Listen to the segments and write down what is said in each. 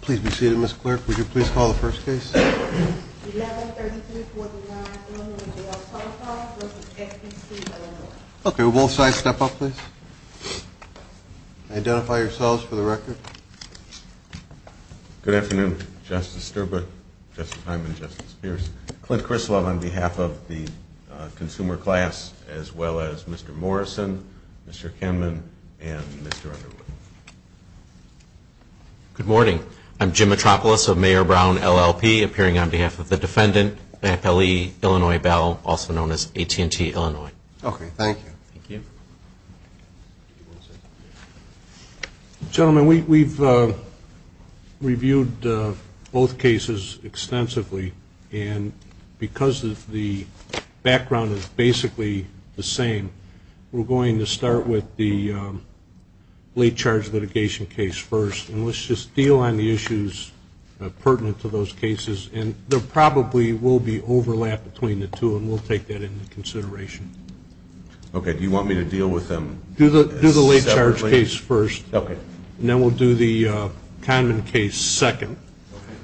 Please be seated, Mr. Clerk. Would you please call the first case? Okay, will both sides step up, please? Identify yourselves for the record. Good afternoon, Justice Sterbuck, Justice Hyman, and Justice Pierce. Clint Krislov on behalf of the consumer class, as well as Mr. Morrison, Mr. Kimmon, and Mr. Underwood. Good morning. I'm Jim Metropoulos of Mayor Brown, LLP, appearing on behalf of the defendant, FLE Illinois Bell, also known as AT&T Illinois. Okay, thank you. Gentlemen, we've reviewed both cases extensively, and because the background is basically the same, we're going to start with the late charge litigation case first. And let's just deal on the issues pertinent to those cases. And there probably will be overlap between the two, and we'll take that into consideration. Okay, do you want me to deal with them separately? Do the late charge case first, and then we'll do the condom case second.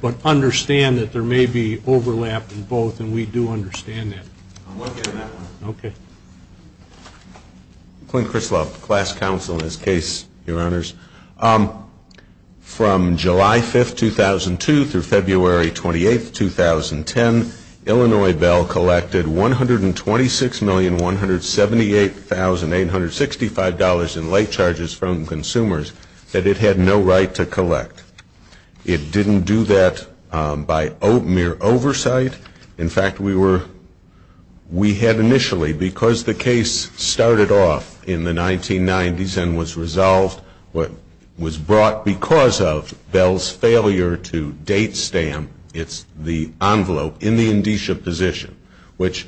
But understand that there may be overlap in both, and we do understand that. Okay. Clint Krislov, class counsel in this case, your honors. From July 5th, 2002 through February 28th, 2010, Illinois Bell collected $126,178,865 in late charges from consumers that it had no right to collect. It didn't do that by mere oversight. In fact, we had initially, because the case started off in the 1990s and was resolved, was brought because of Bell's failure to date stamp the envelope in the indicia position, which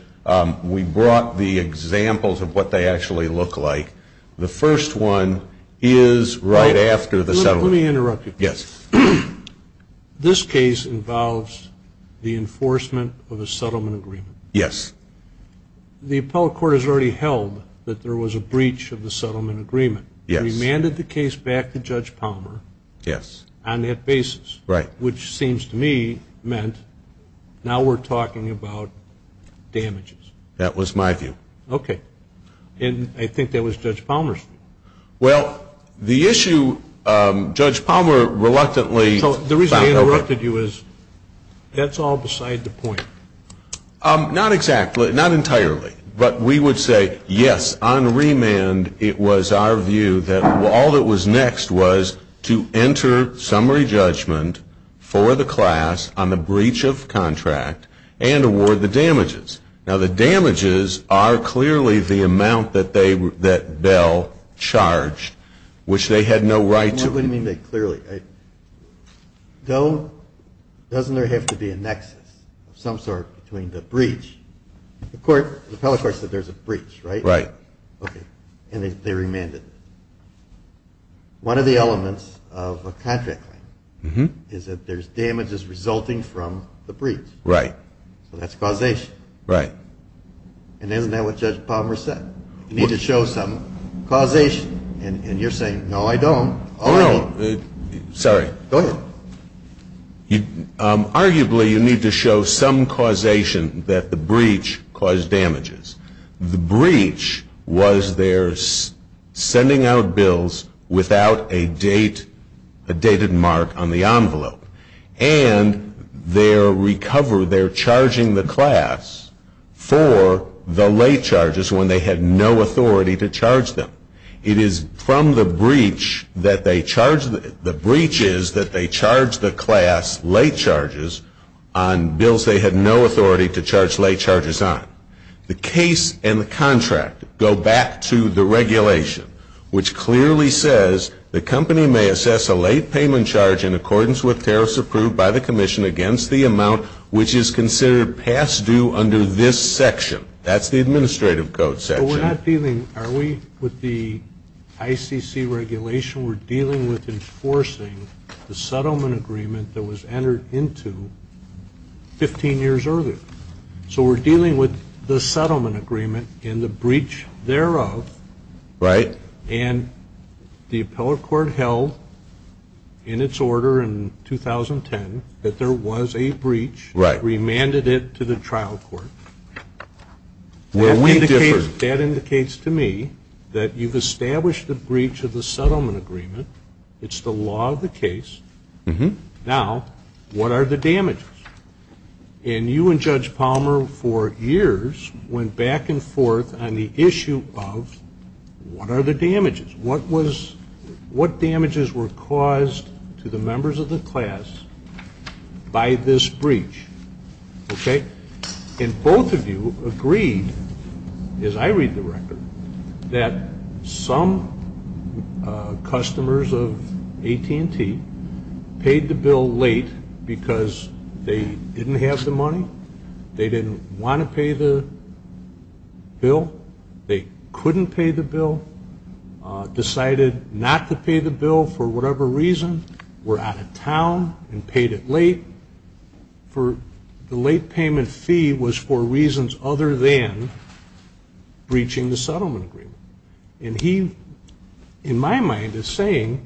we brought the examples of what they actually look like. The first one is right after the settlement. Let me interrupt you. Yes. This case involves the enforcement of a settlement agreement. Yes. The appellate court has already held that there was a breach of the settlement agreement. Yes. Remanded the case back to Judge Palmer. Yes. On that basis. Right. Which seems to me meant, now we're talking about damages. That was my view. Okay. And I think that was Judge Palmer's view. Well, the issue Judge Palmer reluctantly found over. The reason I interrupted you is that's all beside the point. Not exactly. Not entirely. But we would say, yes, on remand it was our view that all that was next was to enter summary judgment for the class on the breach of contract and award the damages. Now the damages are clearly the amount that Bell charged, which they had no right to. What do you mean by clearly? Doesn't there have to be a nexus of some sort between the breach? The appellate court said there's a breach, right? Right. Okay. And they remanded. One of the elements of a contract is that there's damages resulting from the breach. Right. And that's causation. Right. And isn't that what Judge Palmer said? You need to show some causation. And you're saying, no, I don't. No, no. Sorry. Don't. Arguably, you need to show some causation that the breach caused damages. The breach was their sending out bills without a dated mark on the envelope. And they're charging the class for the late charges when they had no authority to charge them. It is from the breach that they charge the class late charges on bills they had no authority to charge late charges on. The case and the contract go back to the regulation, which clearly says the company may assess a late payment charge in accordance with tariffs approved by the commission against the amount which is considered past due under this section. That's the administrative code section. Are we with the ICC regulation? We're dealing with enforcing the settlement agreement that was entered into 15 years earlier. So we're dealing with the settlement agreement and the breach thereof. Right. And the appellate court held in its order in 2010 that there was a breach. Right. Remanded it to the trial court. That indicates to me that you've established the breach of the settlement agreement. It's the law of the case. Now, what are the damages? And you and Judge Palmer for years went back and forth on the issue of what are the damages? What damages were caused to the members of the class by this breach? Okay. And both of you agreed, as I read the record, that some customers of AT&T paid the bill late because they didn't have the money, they didn't want to pay the bill, they couldn't pay the bill, decided not to pay the bill for whatever reason, were out of town and paid it late. The late payment fee was for reasons other than breaching the settlement agreement. And he, in my mind, is saying,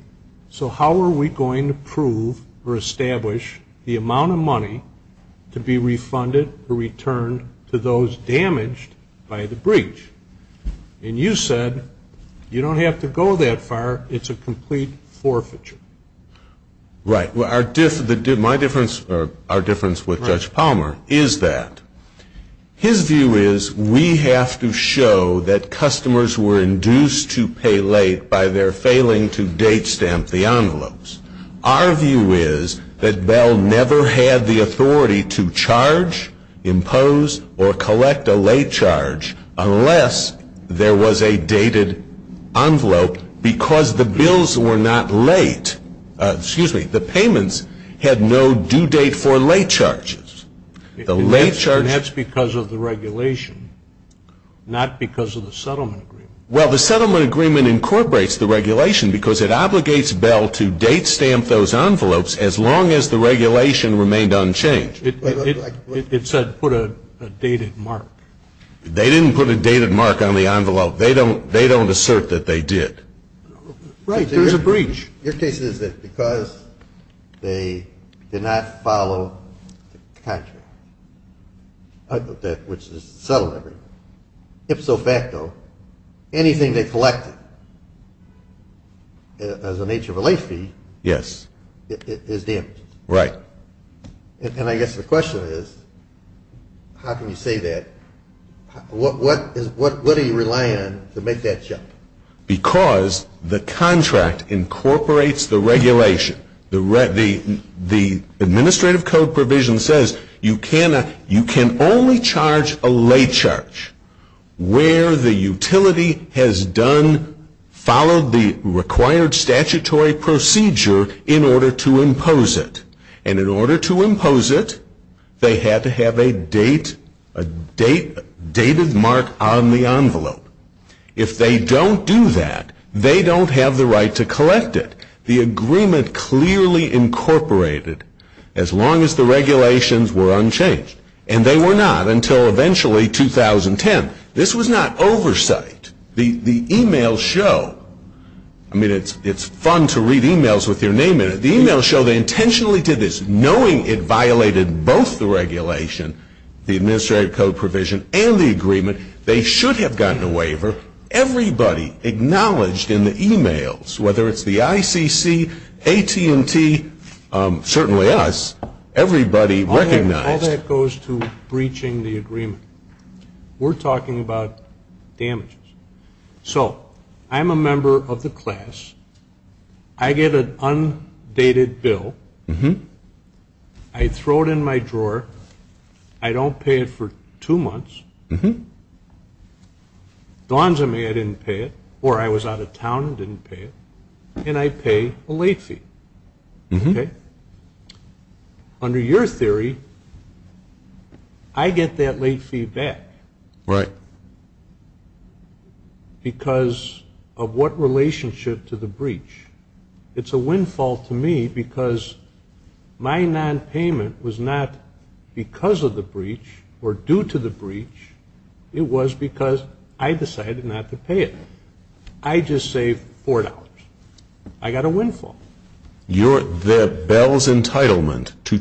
so how are we going to prove or establish the amount of money to be refunded or returned to those damaged by the breach? And you said, you don't have to go that far. It's a complete forfeiture. Right. My difference or our difference with Judge Palmer is that his view is we have to show that customers were induced to pay late by their failing to date stamp the envelopes. Our view is that Bell never had the authority to charge, impose, or collect a late charge unless there was a dated envelope because the bills were not late. Excuse me, the payments had no due date for late charges. And that's because of the regulation, not because of the settlement agreement. Well, the settlement agreement incorporates the regulation because it obligates Bell to date stamp those envelopes as long as the regulation remained unchanged. It says put a dated mark. They didn't put a dated mark on the envelope. They don't assert that they did. Right, there's a breach. Your case is that because they did not follow the contract, which is the settlement agreement, if so facto, anything they collected as a nature of a late fee is damaged. Right. And I guess the question is, how can you say that? What do you rely on to make that judgment? Because the contract incorporates the regulation. The administrative code provision says you can only charge a late charge where the utility has done, followed the required statutory procedure in order to impose it. And in order to impose it, they had to have a dated mark on the envelope. If they don't do that, they don't have the right to collect it. The agreement clearly incorporated as long as the regulations were unchanged. And they were not until eventually 2010. This was not oversight. The e-mails show, I mean, it's fun to read e-mails with your name in it. The e-mails show they intentionally did this knowing it violated both the regulation, the administrative code provision, and the agreement. They should have gotten a waiver. Everybody acknowledged in the e-mails, whether it's the ICC, AT&T, certainly us, everybody recognized. All that goes to breaching the agreement. We're talking about damages. So I'm a member of the class. I get an undated bill. I throw it in my drawer. I don't pay it for two months. Gonza me, I didn't pay it, or I was out of town and didn't pay it. And I pay a late fee. Under your theory, I get that late fee back. Right. Because of what relationship to the breach. It's a windfall to me because my nonpayment was not because of the breach or due to the breach. It was because I decided not to pay it. I just saved $4. I got a windfall. The bill's entitlement to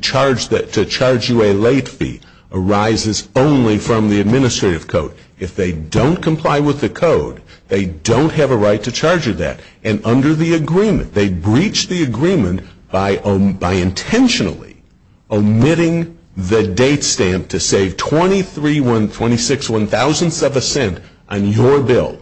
charge you a late fee arises only from the administrative code. If they don't comply with the code, they don't have a right to charge you that. And under the agreement, they breach the agreement by intentionally omitting the date stamp to say 23, 26, 1000th of a cent on your bill.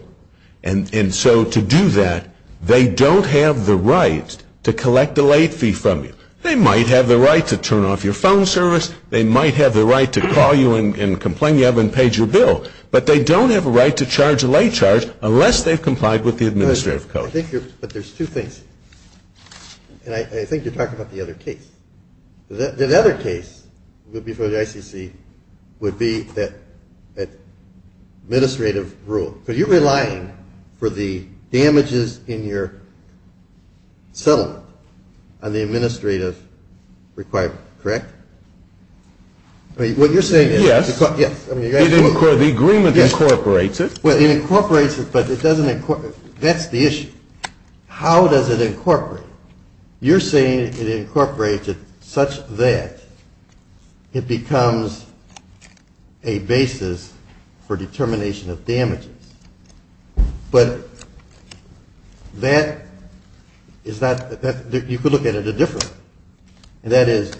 And so to do that, they don't have the right to collect the late fee from you. They might have the right to turn off your phone service. They might have the right to call you and complain you haven't paid your bill. But they don't have a right to charge a late charge unless they've complied with the administrative code. But there's two things. And I think you're talking about the other case. The other case before the ICC would be that administrative rule. But you're relying for the damages in your settlement on the administrative requirement, correct? Yes. The agreement incorporates it. It incorporates it, but it doesn't incorporate it. That's the issue. How does it incorporate it? You're saying it incorporates it such that it becomes a basis for determination of damages. But you could look at it differently. That is,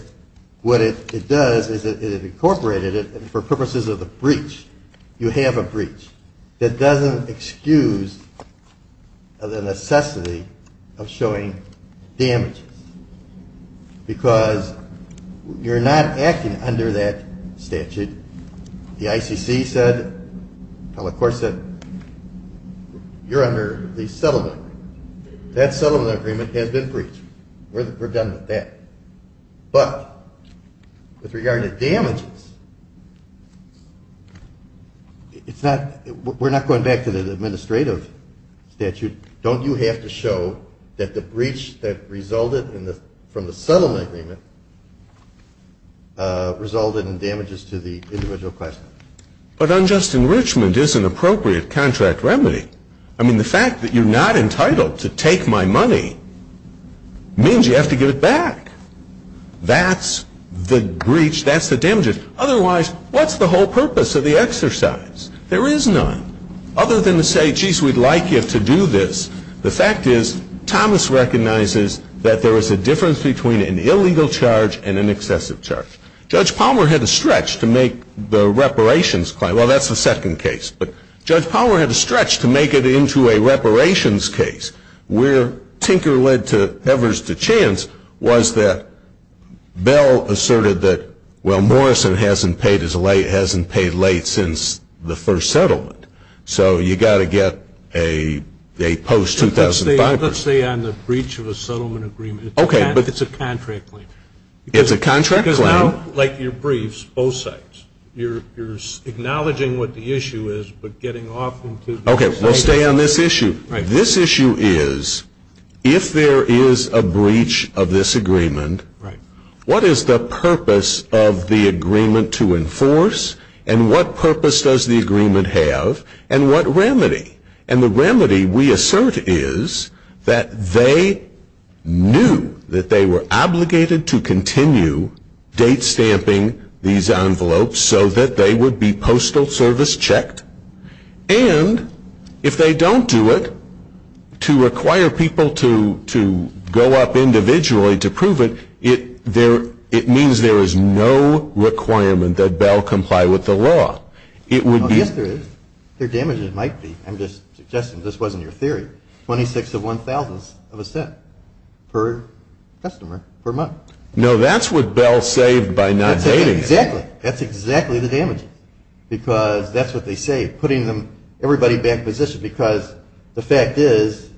what it does is it incorporates it for purposes of a breach. You have a breach. It doesn't excuse the necessity of showing damages because you're not acting under that statute. The ICC said, well, of course, you're under the settlement. That settlement agreement has been breached. We're done with that. But with regard to damages, we're not going back to the administrative statute. Don't you have to show that the breach that resulted from the settlement agreement resulted in damages to the individual class? But unjust enrichment is an appropriate contract remedy. I mean, the fact that you're not entitled to take my money means you have to give it back. That's the breach. That's the damages. Otherwise, what's the whole purpose of the exercise? There is none. Other than to say, geez, we'd like you to do this. The fact is Thomas recognizes that there is a difference between an illegal charge and an excessive charge. Judge Palmer had a stretch to make the reparations claim. Well, that's the second case. But Judge Palmer had a stretch to make it into a reparations case, where tinker led to heavers to chance, was that Bell asserted that, well, Morrison hasn't paid late since the first settlement. So you've got to get a post-2005. Let's say on the breach of a settlement agreement. It's a contract claim. It's a contract claim. Because now, like your breach, both sides. You're acknowledging what the issue is, but getting off on two different sides. Okay. Let's stay on this issue. This issue is, if there is a breach of this agreement, what is the purpose of the agreement to enforce, and what purpose does the agreement have, and what remedy? And the remedy, we assert, is that they knew that they were obligated to continue date stamping these envelopes so that they would be postal service checked. And if they don't do it, to require people to go up individually to prove it, it means there is no requirement that Bell comply with the law. Yes, there is. There damages might be. I'm just suggesting this wasn't your theory. Twenty-six to one thousandth of a cent per customer per month. No, that's what Bell saved by not dating. Exactly. That's exactly the damages. Because that's what they saved, putting everybody back in position. The fact is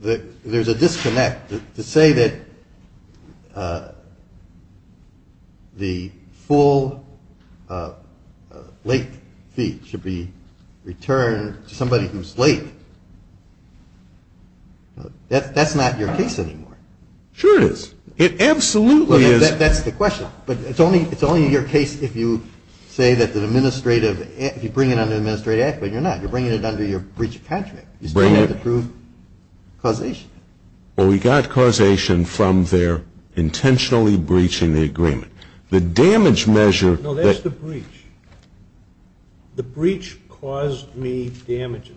that there's a disconnect. To say that the full late fee should be returned to somebody who's late, that's not your case anymore. Sure it is. It absolutely is. That's the question. But it's only your case if you bring it under administrative act, but you're not. You're bringing it under your breach of contract. You still have to prove causation. Well, we got causation from their intentionally breaching the agreement. No, that's the breach. The breach caused me damages.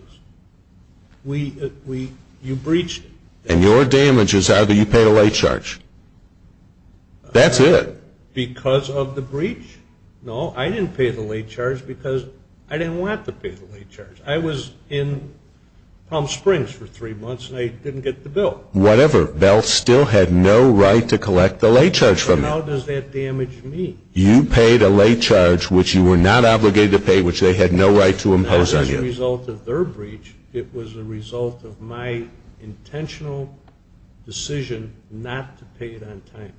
You breached it. And your damages are that you paid a late charge. That's it. Because of the breach? No, I didn't pay the late charge because I didn't want to pay the late charge. I was in Palm Springs for three months and I didn't get the bill. Whatever. Bell still had no right to collect the late charge from you. How does that damage me? You paid a late charge which you were not obligated to pay, which they had no right to impose on you. It was not a result of their breach. It was a result of my intentional decision not to pay it on time.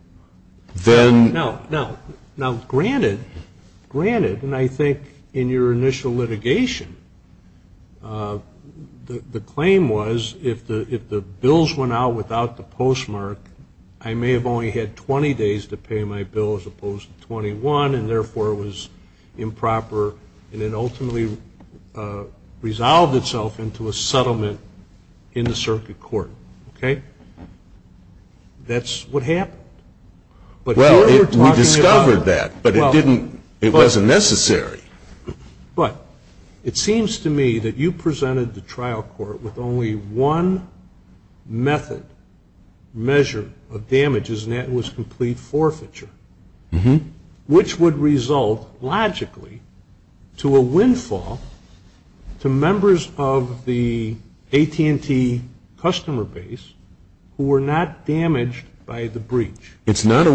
Now, granted, and I think in your initial litigation, the claim was if the bills went out without the postmark, I may have only had 20 days to pay my bill as opposed to 21, and therefore it was improper. And it ultimately resolved itself into a settlement in the circuit court. Okay? That's what happened. Well, we discovered that, but it wasn't necessary. But it seems to me that you presented the trial court with only one method, measure of damages, and that was complete forfeiture, which would result logically to a windfall to members of the AT&T customer base who were not damaged by the breach. It's not a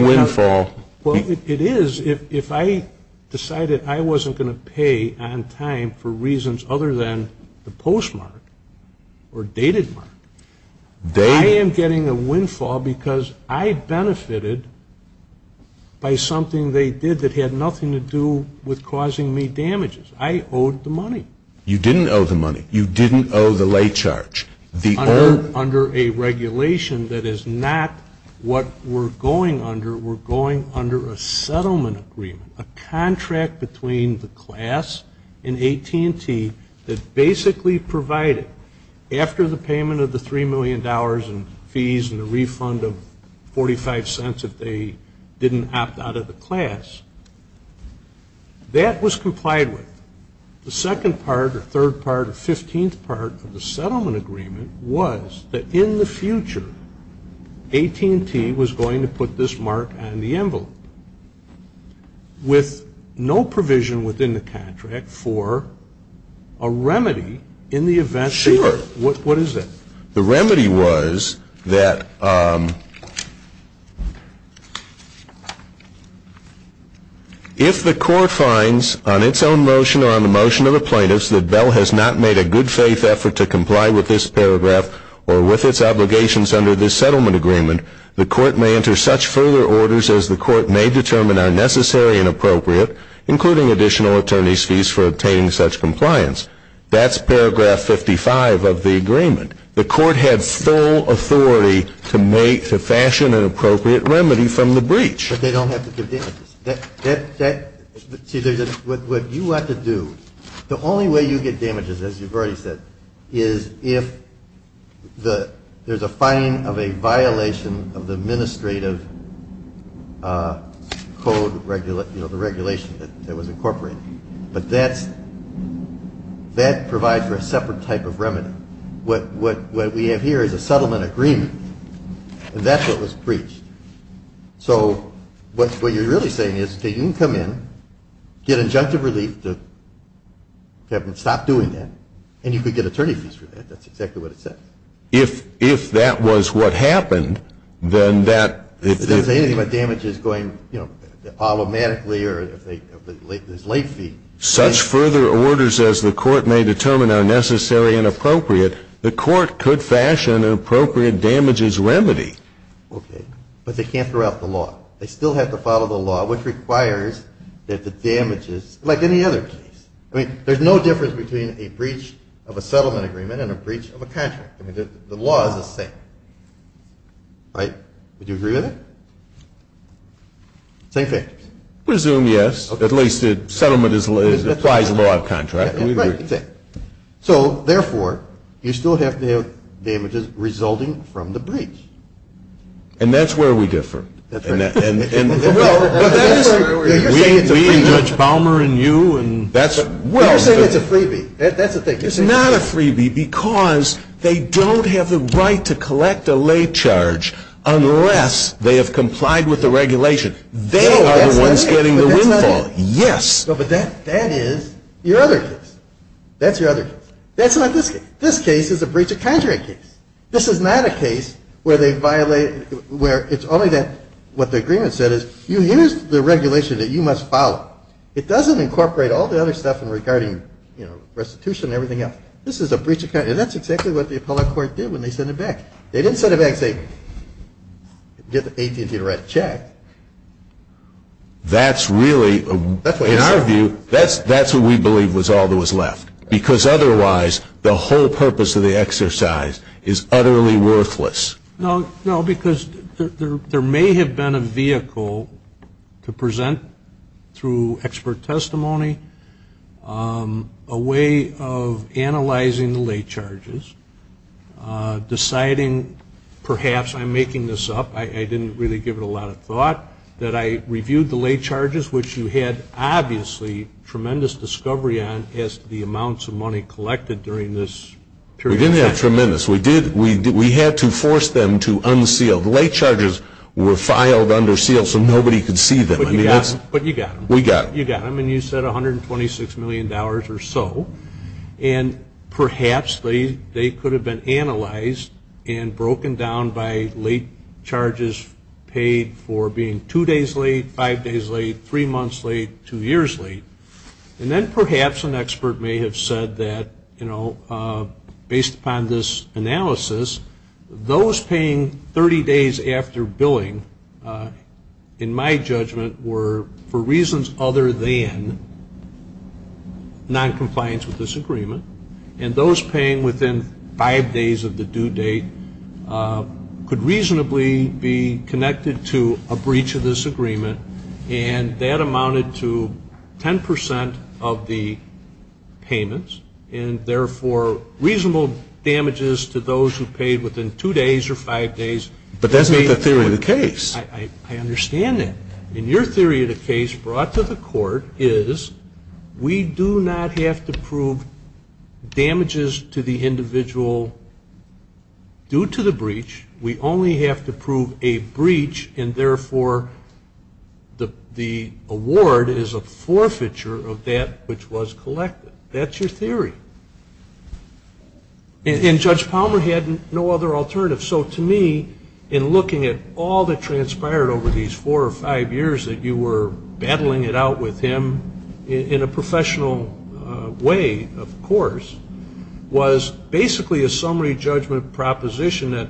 windfall. Well, it is if I decided I wasn't going to pay on time for reasons other than the postmark or dated mark. I am getting a windfall because I benefited by something they did that had nothing to do with causing me damages. I owed the money. You didn't owe the money. You didn't owe the late charge. Under a regulation that is not what we're going under, we're going under a settlement agreement, a contract between the class and AT&T that basically provided, after the payment of the $3 million in fees and a refund of 45 cents if they didn't opt out of the class, that was complied with. The second part or third part or 15th part of the settlement agreement was that in the future, AT&T was going to put this mark on the envelope. With no provision within the contract for a remedy in the event that... Sure. What is it? The remedy was that if the court finds on its own motion or on the motion of the plaintiffs that Bell has not made a good faith effort to comply with this paragraph or with its obligations under this settlement agreement, the court may enter such further orders as the court may determine are necessary and appropriate, including additional attorney's fees for obtaining such compliance. That's paragraph 55 of the agreement. The court had full authority to fashion an appropriate remedy from the breach. But they don't have to give damages. What you have to do, the only way you get damages, as you've already said, is if there's a finding of a violation of the administrative code regulation that was incorporated. But that provides for a separate type of remedy. What we have here is a settlement agreement, and that's what was breached. So what you're really saying is that you can come in, get injunctive relief to stop doing that, and you could get attorney's fees for that. That's exactly what it says. If that was what happened, then that... If there's anything about damages going automatically or there's late fees... Such further orders as the court may determine are necessary and appropriate, the court could fashion an appropriate damages remedy. Okay. But they can't throw out the law. They still have to follow the law, which requires that the damages, like any other. I mean, there's no difference between a breach of a settlement agreement and a breach of a contract. I mean, the law is the same. Right? Do you agree with that? Same thing. I presume yes. At least the settlement is the size of a contract. So, therefore, you still have to have damages resulting from the breach. And that's where we differ. We and Judge Palmer and you, and that's... We're saying it's a freebie. That's what they're saying. It's not a freebie because they don't have the right to collect a late charge unless they have complied with the regulation. They are the ones getting the windfall. Yes. But that is your other case. That's your other case. That's not this case. This case is a breach of contract case. This is not a case where they violate... where it's only that what the agreement said is, you use the regulation that you must follow. It doesn't incorporate all the other stuff regarding restitution and everything else. This is a breach of contract. And that's exactly what the appellate court did when they sent it back. They didn't send it back and say, get the agency to write a check. That's really... In our view, that's what we believe was all that was left. Because otherwise, the whole purpose of the exercise is utterly worthless. No, because there may have been a vehicle to present through expert testimony, a way of analyzing the late charges, deciding perhaps I'm making this up, I didn't really give it a lot of thought, that I reviewed the late charges, which you had obviously tremendous discovery on as to the amounts of money collected during this period. We didn't have tremendous. We had to force them to unseal. The late charges were filed under seal so nobody could see them. But you got them. We got them. You got them, and you said $126 million or so. And perhaps they could have been analyzed and broken down by late charges paid for being two days late, five days late, three months late, two years late. And then perhaps an expert may have said that, you know, based upon this analysis, those paying 30 days after billing, in my judgment, were for reasons other than non-compliance with this agreement. And those paying within five days of the due date could reasonably be connected to a breach of this agreement, and that amounted to 10 percent of the payments, and therefore reasonable damages to those who paid within two days or five days. But that's not the theory of the case. I understand that. And your theory of the case brought to the court is we do not have to prove damages to the individual due to the breach. We only have to prove a breach, and therefore the award is a forfeiture of that which was collected. That's your theory. And Judge Palmer had no other alternative. So to me, in looking at all that transpired over these four or five years that you were battling it out with him, in a professional way, of course, was basically a summary judgment proposition that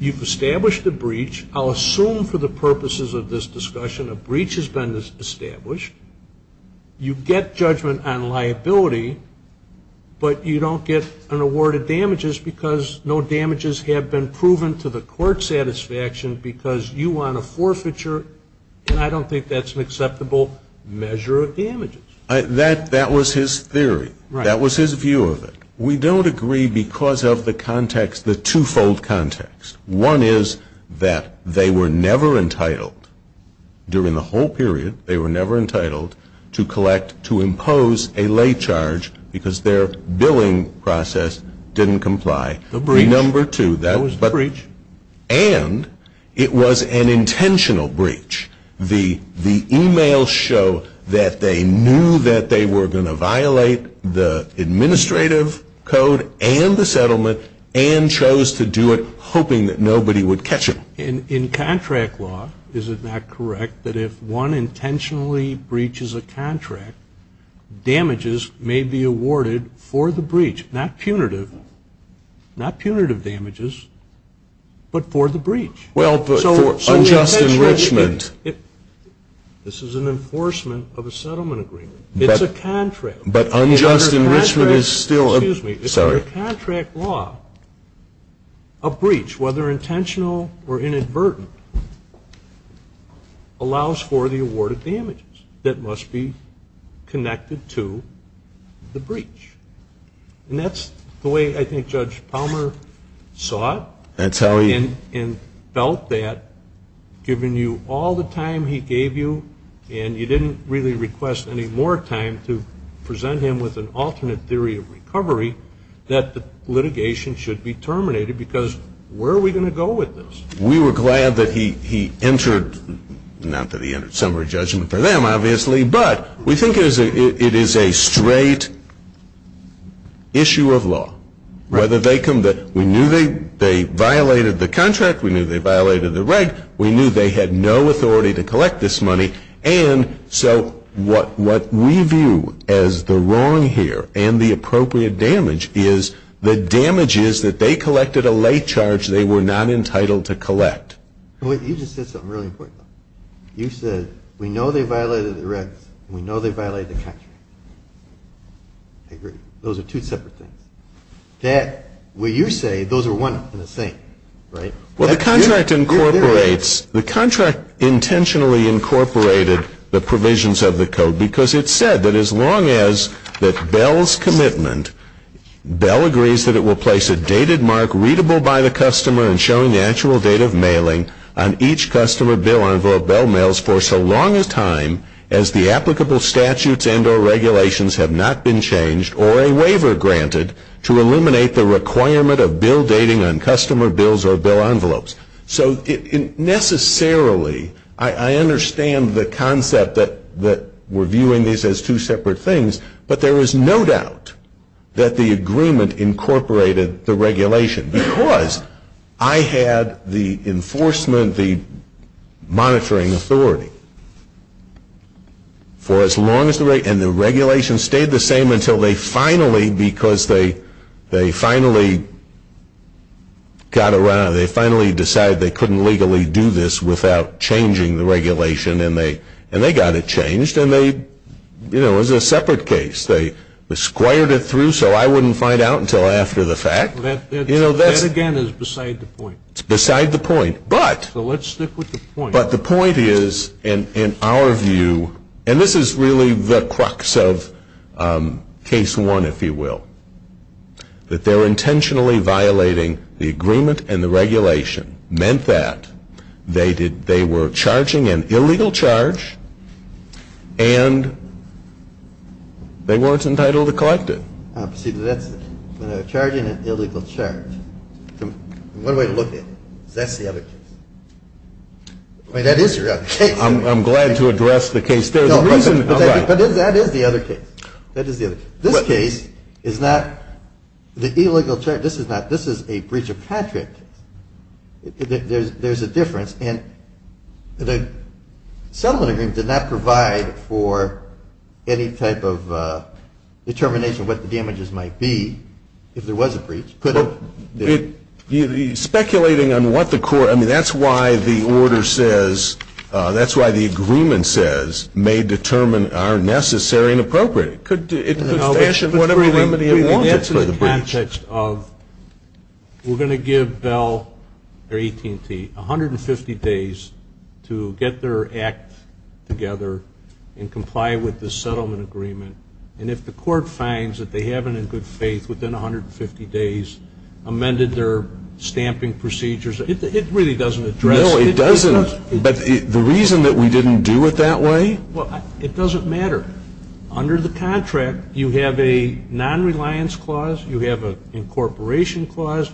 you've established a breach. I'll assume for the purposes of this discussion a breach has been established. You get judgment on liability, but you don't get an award of damages because no damages have been proven to the court's satisfaction because you won a forfeiture, and I don't think that's an acceptable measure of damages. That was his theory. That was his view of it. We don't agree because of the context, the twofold context. One is that they were never entitled during the whole period, they were never entitled to collect, to impose a late charge because their billing process didn't comply. The number two, that was the breach. And it was an intentional breach. The e-mails show that they knew that they were going to violate the administrative code and the settlement and chose to do it hoping that nobody would catch them. In contract law, is it not correct that if one intentionally breaches a contract, damages may be awarded for the breach, not punitive, not punitive damages, but for the breach? Well, for unjust enrichment. This is an enforcement of a settlement agreement. It's a contract. But unjust enrichment is still... Sorry. It's a contract law. A breach, whether intentional or inadvertent, allows for the award of damages that must be connected to the breach. And that's the way I think Judge Palmer saw it... That's how he... that the litigation should be terminated because where are we going to go with this? We were glad that he entered... Not that he entered. Some were judging for them, obviously. But we think it is a straight issue of law. Whether they come to... We knew they violated the contract. We knew they violated the right. We knew they had no authority to collect this money. And so what we view as the wrong here and the appropriate damage is the damage is that they collected a late charge they were not entitled to collect. You just said something really important. You said, we know they violated the record. We know they violated the contract. Those are two separate things. That, what you say, those are one and the same, right? Well, the contract incorporates... The contract intentionally incorporated the provisions of the code because it said that as long as that Bell's commitment, Bell agrees that it will place a dated mark readable by the customer and show natural date of mailing on each customer bill or Bell mails for so long a time as the applicable statutes and or regulations have not been changed or a waiver granted to eliminate the requirement of bill dating on customer bills or Bell envelopes. So necessarily, I understand the concept that we're viewing these as two separate things, but there is no doubt that the agreement incorporated the regulation because I had the enforcement, the monitoring authority. And the regulation stayed the same until they finally, because they finally got around, they finally decided they couldn't legally do this without changing the regulation and they got it changed and they, you know, it was a separate case. They squared it through so I wouldn't find out until after the fact. That again is beside the point. It's beside the point, but... So let's stick with the point. But the point is, in our view, and this is really the crux of case one, if you will, that they're intentionally violating the agreement and the regulation, meant that they were charging an illegal charge and they weren't entitled to collect it. When they're charging an illegal charge, one way to look at it, that's the other case. That is the other case. I'm glad to address the case. That is the other case. That is the other case. This case is not the illegal charge. This is a breach of contract. There's a difference. And the settlement agreement did not provide for any type of determination of what the damages might be if there was a breach. Speculating on what the court... I mean, that's why the order says, that's why the agreement says, may determine are necessary and appropriate. That's in the context of, we're going to give Bell, or AT&T, 150 days to get their act together and comply with the settlement agreement. And if the court finds that they haven't, in good faith, within 150 days, amended their stamping procedures, it really doesn't address... No, it doesn't. But the reason that we didn't do it that way... Well, it doesn't matter. Under the contract, you have a non-reliance clause, you have an incorporation clause.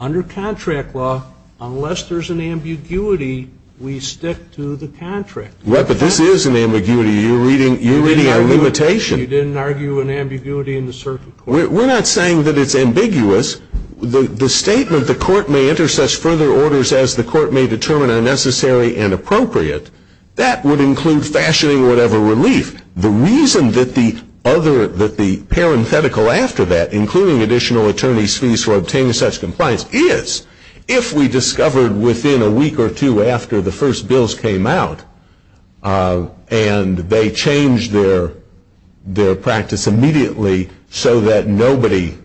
Under contract law, unless there's an ambiguity, we stick to the contract. But this is an ambiguity. You're reading our limitation. You didn't argue an ambiguity in the circuit court. We're not saying that it's ambiguous. The statement, the court may enter such further orders as the court may determine are necessary and appropriate, that would include fashioning whatever relief. The reason that the parenthetical after that, including additional attorney's fees for obtaining such compliance, is if we discovered within a week or two after the first bills came out and they changed their practice immediately so that nobody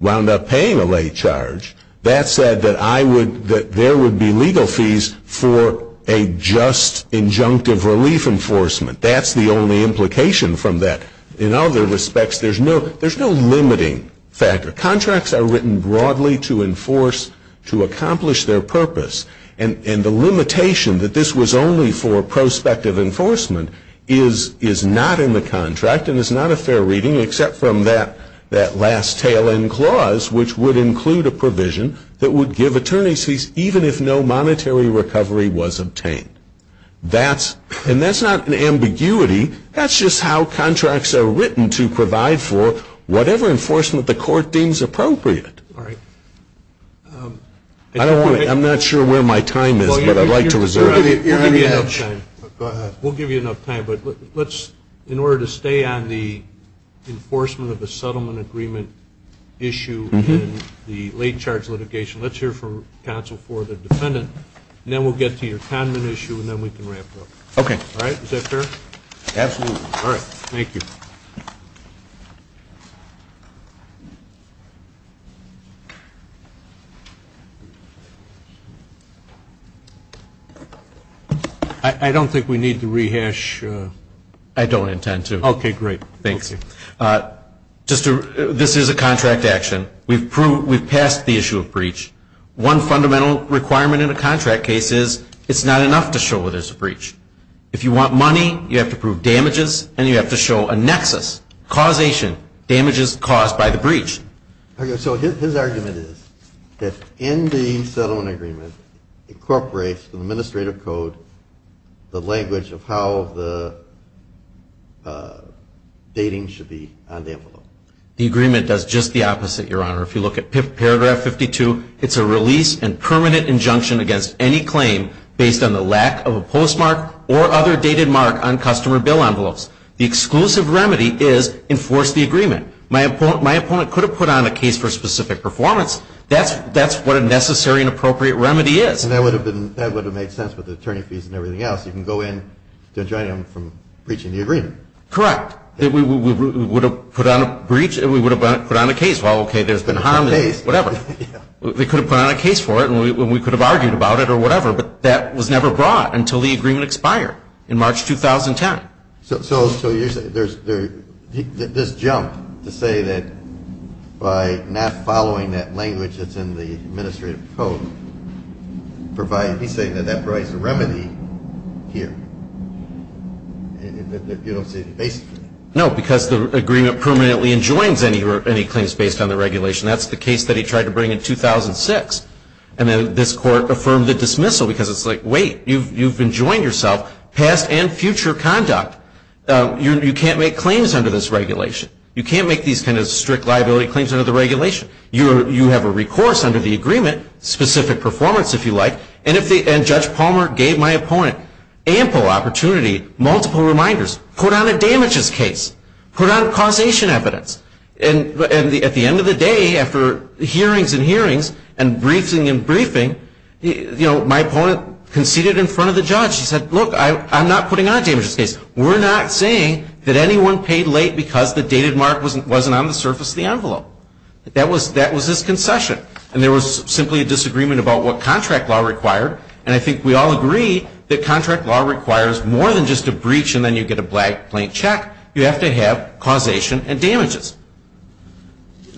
wound up paying a late charge, that said that there would be legal fees for a just injunctive relief enforcement. That's the only implication from that. In other respects, there's no limiting factor. Contracts are written broadly to enforce, to accomplish their purpose. And the limitation that this was only for prospective enforcement is not in the contract and is not a fair reading except from that last tail end clause, which would include a provision that would give attorney's fees even if no monetary recovery was obtained. And that's not an ambiguity. That's just how contracts are written to provide for whatever enforcement the court deems appropriate. I'm not sure where my time is, but I'd like to reserve it. We'll give you enough time. But in order to stay on the enforcement of the settlement agreement issue and the late charge litigation, let's hear from counsel for the dependent. Then we'll get to your common issue, and then we can wrap it up. Okay. All right? Is that fair? Absolutely. All right. Thank you. Thank you. I don't think we need to rehash. I don't intend to. Okay, great. Thank you. This is a contract action. We've passed the issue of breach. One fundamental requirement in a contract case is it's not enough to show there's a breach. If you want money, you have to prove damages, and you have to show a nexus, causation, damages caused by the breach. Okay, so his argument is that ending settlement agreement incorporates the administrative code, the language of how the dating should be on the envelope. The agreement does just the opposite, Your Honor. If you look at paragraph 52, it's a release and permanent injunction against any claim based on the lack of a postmark or other dated mark on customer bill envelopes. The exclusive remedy is enforce the agreement. My opponent could have put on a case for a specific performance. That's what a necessary and appropriate remedy is. That would have made sense with the attorney fees and everything else. You can go in and drive them from breaching the agreement. Correct. We would have put on a breach, and we would have put on a case. Well, okay, there's been harm. Whatever. We could have put on a case for it, and we could have argued about it or whatever, but that was never brought until the agreement expired in March 2010. So you're saying there's this jump to say that by not following that language that's in the administrative code, he's saying that that provides a remedy here. If you don't see the basis. No, because the agreement permanently enjoins any claims based on the regulation. That's the case that he tried to bring in 2006, and then this court affirmed the dismissal because it's like, wait, you've enjoined yourself past and future conduct. You can't make claims under this regulation. You can't make these kind of strict liability claims under the regulation. You have a recourse under the agreement, specific performance if you like, and Judge Palmer gave my opponent ample opportunity, multiple reminders. Put on a damages case. Put on causation evidence. And at the end of the day, after hearings and hearings and briefing and briefing, my opponent conceded in front of the judge. He said, look, I'm not putting on a damages case. We're not saying that anyone paid late because the dated mark wasn't on the surface of the envelope. That was his concession. And there was simply a disagreement about what contract law required, and I think we all agree that contract law requires more than just a breach and then you get a blank check. You have to have causation and damages.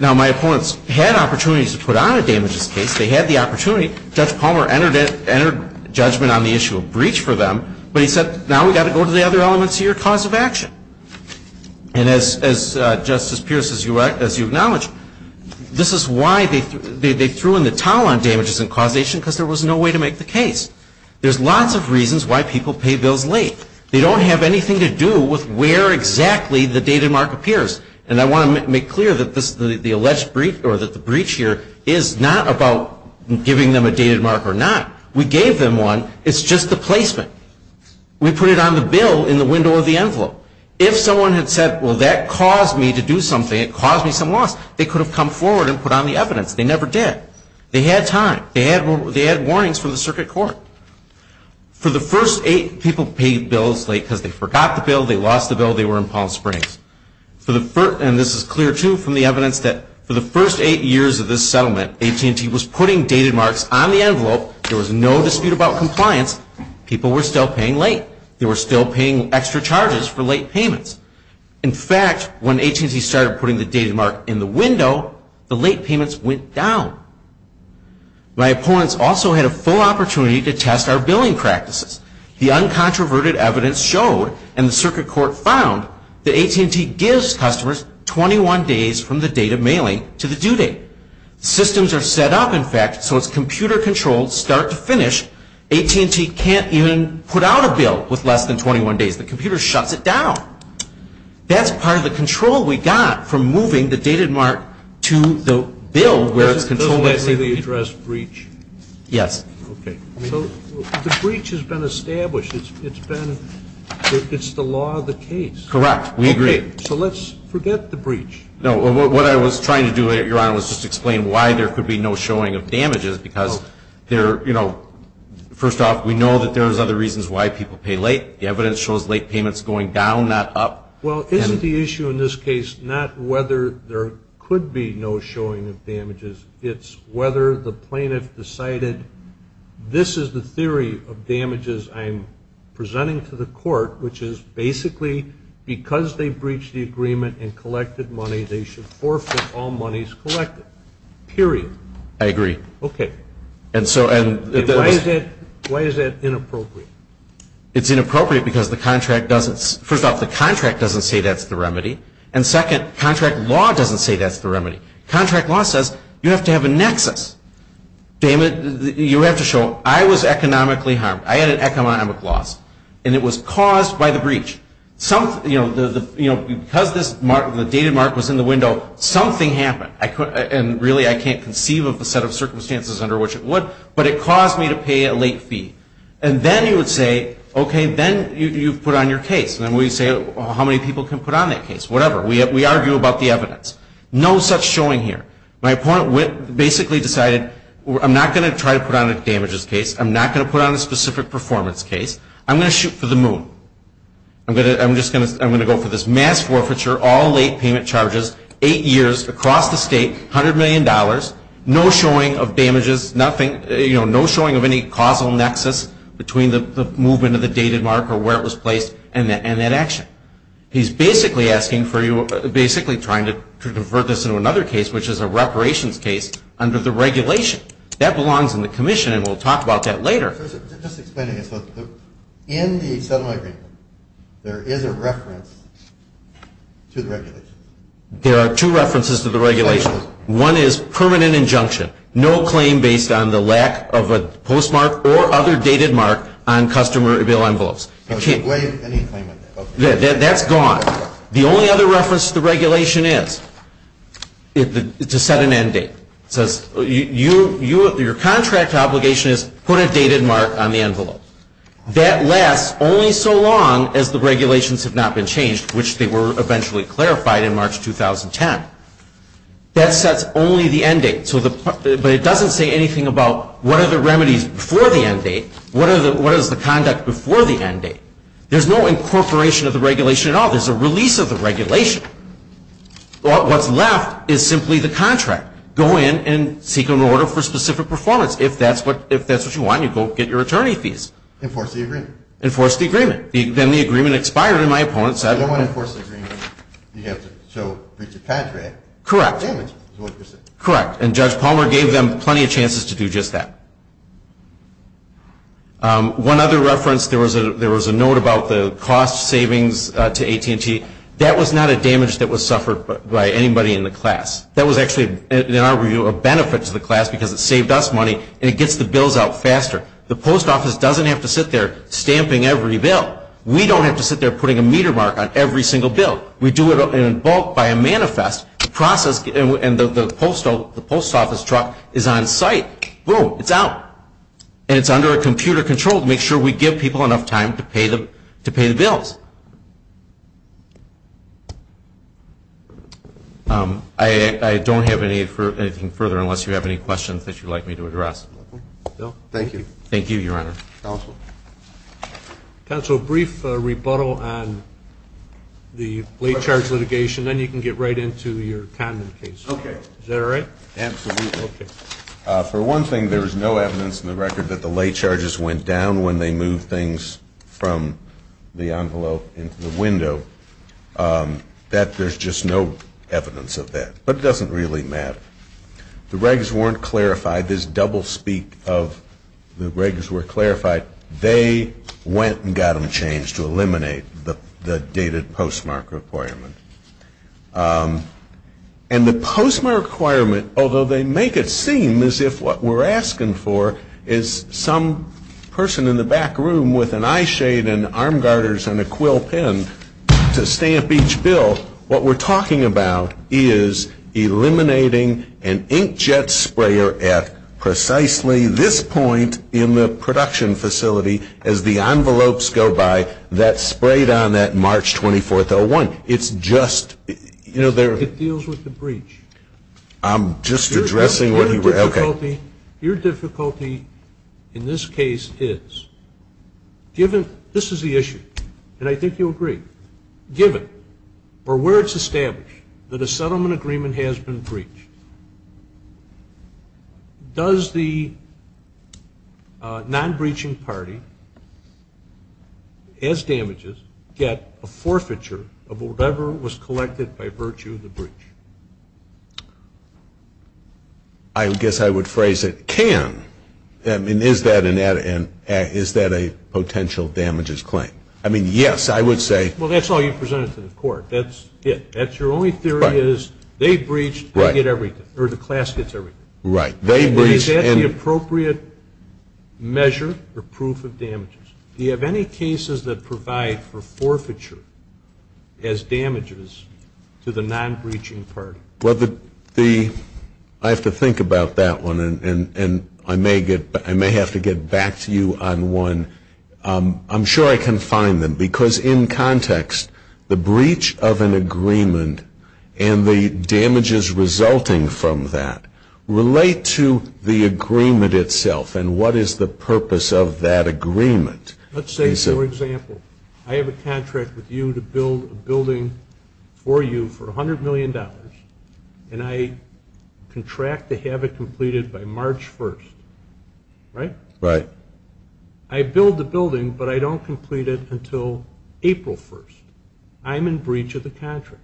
Now, my opponents had opportunities to put on a damages case. They had the opportunity. Judge Palmer entered judgment on the issue of breach for them, but he said, now we've got to go to the other elements here, cause of action. And as Justice Pierce, as you acknowledge, this is why they threw in the towel on damages and causation, because there was no way to make the case. There's lots of reasons why people pay bills late. They don't have anything to do with where exactly the dated mark appears. And I want to make clear that the alleged breach or the breach here is not about giving them a dated mark or not. We gave them one. It's just the placement. We put it on the bill in the window of the envelope. If someone had said, well, that caused me to do something, it caused me some loss, they could have come forward and put on the evidence. They never did. They had time. They had warnings from the circuit court. For the first eight people paid bills late because they forgot the bill, they lost the bill, they were in Palm Springs. And this is clear, too, from the evidence that for the first eight years of this settlement, AT&T was putting dated marks on the envelope. There was no dispute about compliance. People were still paying late. They were still paying extra charges for late payments. In fact, when AT&T started putting the dated mark in the window, the late payments went down. My opponents also had a full opportunity to test our billing practices. The uncontroverted evidence showed, and the circuit court found, that AT&T gives customers 21 days from the date of mailing to the due date. Systems are set up, in fact, so it's computer controlled start to finish. AT&T can't even put out a bill with less than 21 days. The computer shuts it down. That's part of the control we got for moving the dated mark to the bill where it's controlled. The address breach. Yes. The breach has been established. It's the law of the case. Correct. We agree. So let's forget the breach. What I was trying to do there, Your Honor, was just explain why there could be no showing of damages because, you know, first off, we know that there are other reasons why people pay late. The evidence shows late payments going down, not up. Well, isn't the issue in this case not whether there could be no showing of damages. It's whether the plaintiff decided this is the theory of damages I'm presenting to the court, which is basically because they breached the agreement and collected money, they should forfeit all monies collected, period. I agree. Okay. Why is that inappropriate? It's inappropriate because, first off, the contract doesn't say that's the remedy, and, second, contract law doesn't say that's the remedy. Contract law says you have to have a nexus. You have to show I was economically harmed. I had an economic loss, and it was caused by the breach. You know, because the dated mark was in the window, something happened, and really I can't conceive of the set of circumstances under which it would, but it caused me to pay a late fee. And then he would say, okay, then you put on your case. And we'd say, well, how many people can put on that case? Whatever. We argue about the evidence. No such showing here. My opponent basically decided I'm not going to try to put on a damages case. I'm not going to put on a specific performance case. I'm going to shoot for the moon. I'm going to go for this mass forfeiture, all late payment charges, eight years across the state, $100 million, no showing of damages, nothing, no showing of any causal nexus between the movement of the dated mark or where it was placed and that action. He's basically asking for you, basically trying to convert this into another case, which is a reparations case under the regulation. That belongs in the commission, and we'll talk about that later. Just explaining it. In the settlement agreement, there is a reference to the regulation. There are two references to the regulation. One is permanent injunction, no claim based on the lack of a postmark or other dated mark on customer bill envelopes. Okay. That's gone. The only other reference to the regulation is to set an end date. Your contract obligation is put a dated mark on the envelope. That lasts only so long as the regulations have not been changed, which they were eventually clarified in March 2010. That sets only the end date, but it doesn't say anything about what are the remedies before the end date, what is the conduct before the end date. There's no incorporation of the regulation at all. There's a release of the regulation. What's left is simply the contract. Go in and seek an order for specific performance. If that's what you want, you go get your attorney's fees. Enforce the agreement. Enforce the agreement. Then the agreement expires, and my opponent says... I don't want to enforce the agreement. You have to show recent contract. Correct. Correct. And Judge Palmer gave them plenty of chances to do just that. One other reference. There was a note about the cost savings to AT&T. That was not a damage that was suffered by anybody in the class. That was actually, in our review, a benefit to the class because it saved us money, and it gets the bills out faster. The post office doesn't have to sit there stamping every bill. We don't have to sit there putting a meter mark on every single bill. We do it in bulk by a manifest, and the post office truck is on site. Boom. It's out, and it's under computer control to make sure we give people enough time to pay the bills. I don't have anything further, unless you have any questions that you'd like me to address. No. Thank you. Thank you, Your Honor. Counsel. Counsel, a brief rebuttal on the lay charge litigation. Then you can get right into your common case. Okay. Is that all right? Absolutely. Okay. For one thing, there was no evidence in the record that the lay charges went down when they moved things from the envelope into the window. There's just no evidence of that. But it doesn't really matter. The regs weren't clarified. There's double speak of the regs were clarified. They went and got them changed to eliminate the dated postmark requirement. And the postmark requirement, although they make it seem as if what we're asking for is some person in the back room with an eye shade and arm garters and a quill pen to stamp each bill, what we're talking about is eliminating an inkjet sprayer at precisely this point in the production facility as the envelopes go by that sprayed on that March 24th, 2001. It's just, you know, they're... It deals with the breach. I'm just addressing what he... Okay. Your difficulty in this case is, given this is the issue, and I think you'll agree, given, or where it's established, that a settlement agreement has been breached, does the non-breaching party, as damages, get a forfeiture of whatever was collected by virtue of the breach? I guess I would phrase it, can. I mean, is that a potential damages claim? I mean, yes, I would say... Well, that's all you presented to the court. That's it. That's your only theory is they breach, they get everything. Right. Or the class gets everything. Right. They breach and... Is that the appropriate measure or proof of damages? Do you have any cases that provide for forfeiture as damages to the non-breaching party? Well, I have to think about that one, and I may have to get back to you on one. I'm sure I can find them, because in context, the breach of an agreement and the damages resulting from that relate to the agreement itself, and what is the purpose of that agreement? Let's say, for example, I have a contract with you to build a building for you for $100 million, and I contract to have it completed by March 1st, right? Right. I build the building, but I don't complete it until April 1st. I'm in breach of the contract.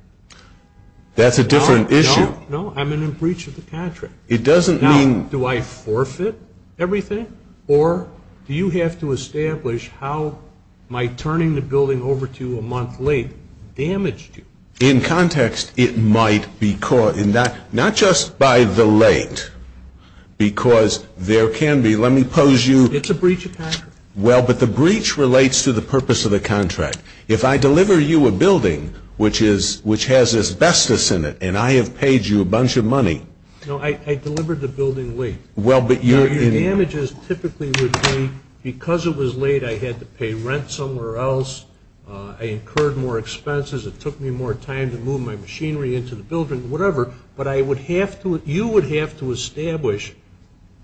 That's a different issue. No, I'm in breach of the contract. It doesn't mean... Now, do I forfeit everything, or do you have to establish how my turning the building over to you a month late damaged you? In context, it might be caused, and not just by the late, because there can be, let me pose you... It's a breach of contract. Well, but the breach relates to the purpose of the contract. If I deliver you a building which has asbestos in it and I have paid you a bunch of money... No, I delivered the building late. Your damages typically would be because it was late, I had to pay rent somewhere else, I incurred more expenses, it took me more time to move my machinery into the building, whatever, but you would have to establish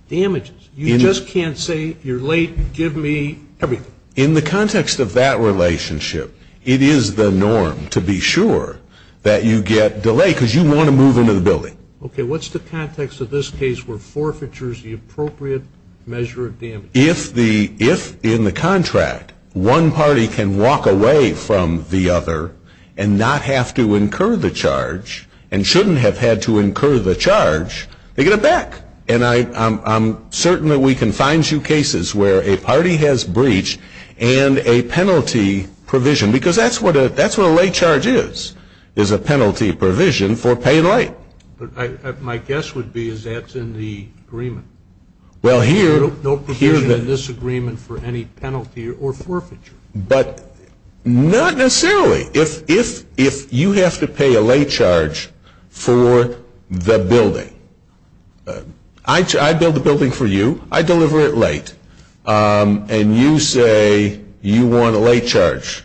damages. You just can't say, you're late, give me everything. In the context of that relationship, it is the norm to be sure that you get delayed, because you want to move into the building. Okay, what's the context of this case where forfeiture is the appropriate measure of damage? If in the contract one party can walk away from the other and not have to incur the charge, and shouldn't have had to incur the charge, they get it back. And I'm certain that we can find you cases where a party has breached and a penalty provision, because that's what a late charge is, is a penalty provision for paying late. My guess would be that's in the agreement. Well, here... No provision in this agreement for any penalty or forfeiture. But not necessarily. If you have to pay a late charge for the building, I build the building for you, I deliver it late, and you say you want a late charge,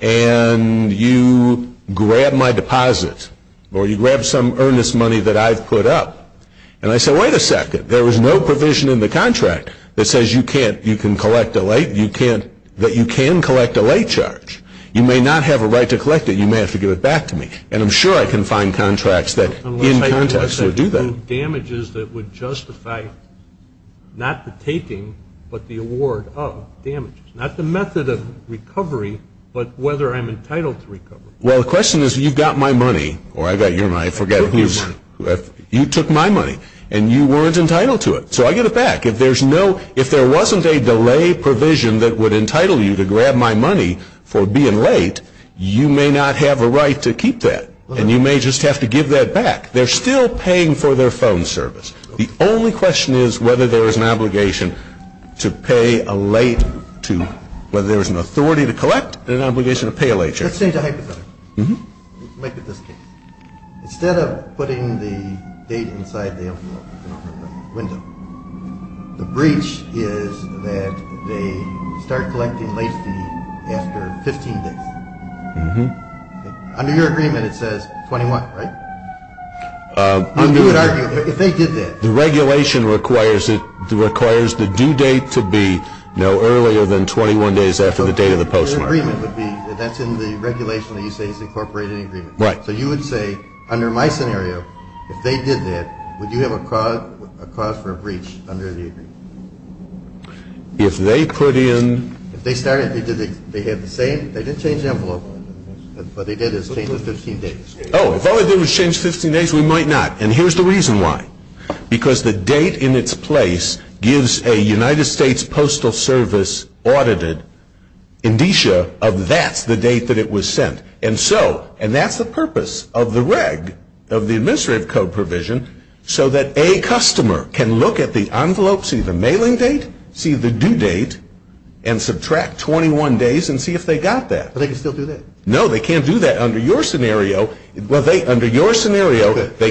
and you grab my deposits, or you grab some earnest money that I put up, and I say, wait a second, there was no provision in the contract that says you can collect a late charge. You may not have a right to collect it. You may have to give it back to me. And I'm sure I can find contracts that do that. Damages that would justify not the taking but the award of damages, not the method of recovery but whether I'm entitled to recovery. Well, the question is you got my money, or I got your money, I forget whose. You took my money, and you weren't entitled to it. So I get it back. If there wasn't a delay provision that would entitle you to grab my money for being late, you may not have a right to keep that, and you may just have to give that back. They're still paying for their phone service. The only question is whether there is an obligation to pay a late to, whether there is an authority to collect or an obligation to pay a late charge. Let's change the hypothetical. Let's look at this case. Instead of putting the date inside the window, the breach is that they start collecting late fees after 15 days. Under your agreement it says 21, right? If they did that. The regulation requires the due date to be no earlier than 21 days after the date of the postmark. That's in the regulation that you say is incorporated in the agreement. Right. So you would say, under my scenario, if they did that, would you have a cause for a breach under the agreement? If they could in... If they started, they didn't change envelopes, but they did the same 15 days. Oh, if all they did was change 15 days, we might not. And here's the reason why. Because the date in its place gives a United States Postal Service audited indicia of that, the date that it was sent. And so, and that's the purpose of the reg, of the administrative code provision, so that a customer can look at the envelope, see the mailing date, see the due date, and subtract 21 days and see if they got that. But they can still do that. No, they can't do that. Under your scenario, they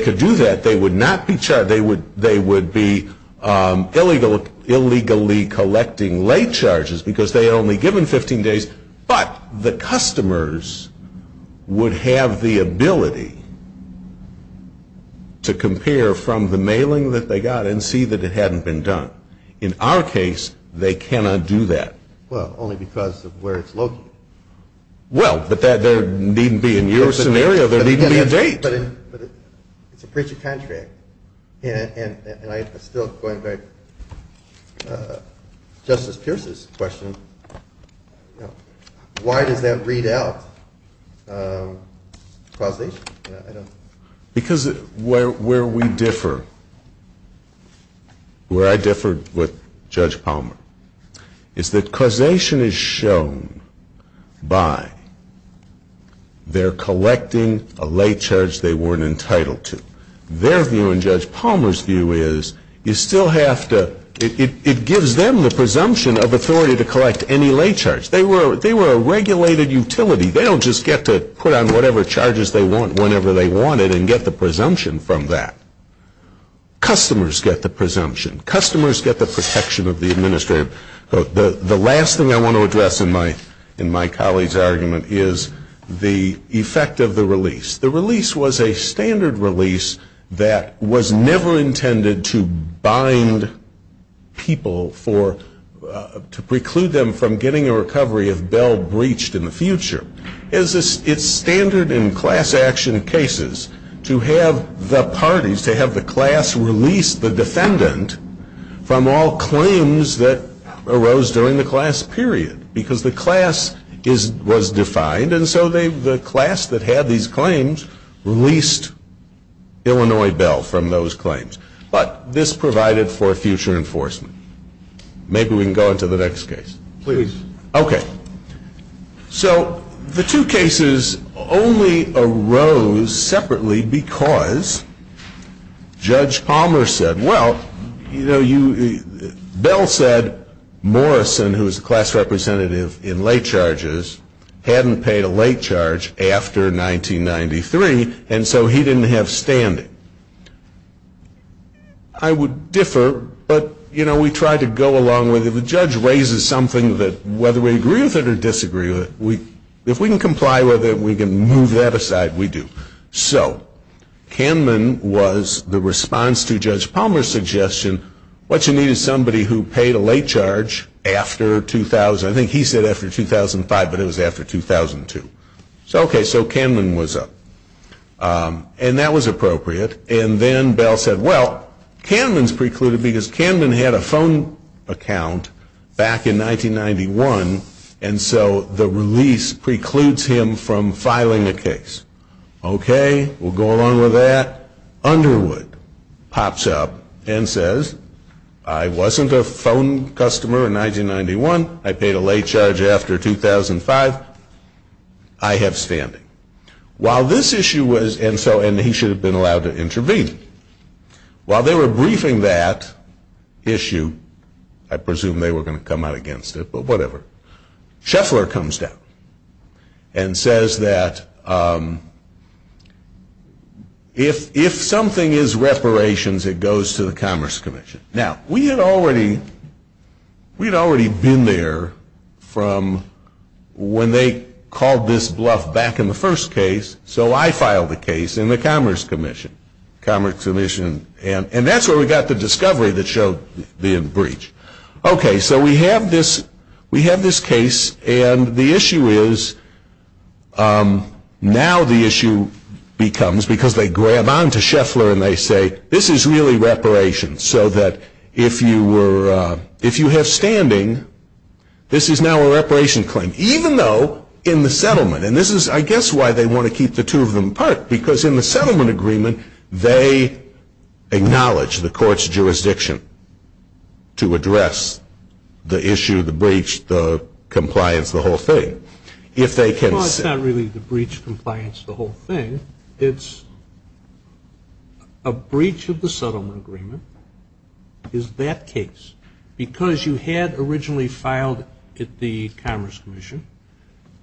could do that. They would not be charged. They would be illegally collecting late charges because they had only given 15 days. But the customers would have the ability to compare from the mailing that they got and see that it hadn't been done. In our case, they cannot do that. Well, only because of where it's located. Well, but there needn't be. In your scenario, there needn't be a date. But it's a preaching contract. And I was still going back to Justice Pierce's question, why did that read out causation? Because where we differ, where I differ with Judge Palmer, is that causation is shown by their collecting a late charge they weren't entitled to. Their view and Judge Palmer's view is you still have to, it gives them the presumption of authority to collect any late charge. They were a regulated utility. They don't just get to put on whatever charges they want whenever they want it and get the presumption from that. Customers get the presumption. Customers get the protection of the administrator. The last thing I want to address in my colleague's argument is the effect of the release. The release was a standard release that was never intended to bind people for, to preclude them from getting a recovery of Bell breached in the future. It's standard in class action cases to have the parties, to have the class release the defendant from all claims that arose during the class period. Because the class was defined, and so the class that had these claims released Illinois Bell from those claims. But this provided for future enforcement. Maybe we can go on to the next case. Please. Okay. So the two cases only arose separately because Judge Palmer said, well, you know, Bell said Morrison, who was a class representative in late charges, hadn't paid a late charge after 1993, and so he didn't have standing. I would differ, but, you know, we try to go along with it. The judge raises something that whether we agree with it or disagree with it, if we can comply with it, we can move that aside, we do. So Kamlin was the response to Judge Palmer's suggestion, what you need is somebody who paid a late charge after 2000. I think he said after 2005, but it was after 2002. So, okay, so Kamlin was up. And that was appropriate. And then Bell said, well, Kamlin's precluded because Kamlin had a phone account back in 1991, and so the release precludes him from filing a case. Okay, we'll go along with that. Underwood pops up and says, I wasn't a phone customer in 1991. I paid a late charge after 2005. I have standing. While this issue was, and he should have been allowed to intervene, while they were briefing that issue, I presume they were going to come out against it, but whatever, Scheffler comes down and says that if something is reparations, it goes to the Commerce Commission. Now, we had already been there from when they called this bluff back in the first case, so I filed a case in the Commerce Commission, and that's where we got the discovery that showed the breach. Okay, so we have this case, and the issue is, now the issue becomes, because they grab on to Scheffler and they say, this is really reparations, so that if you have standing, this is now a reparation claim, even though in the settlement, and this is, I guess, why they want to keep the two of them apart, because in the settlement agreement, they acknowledge the court's jurisdiction to address the issue, the breach, the compliance, the whole thing. Well, it's not really the breach, compliance, the whole thing. It's a breach of the settlement agreement is that case, because you had originally filed at the Commerce Commission.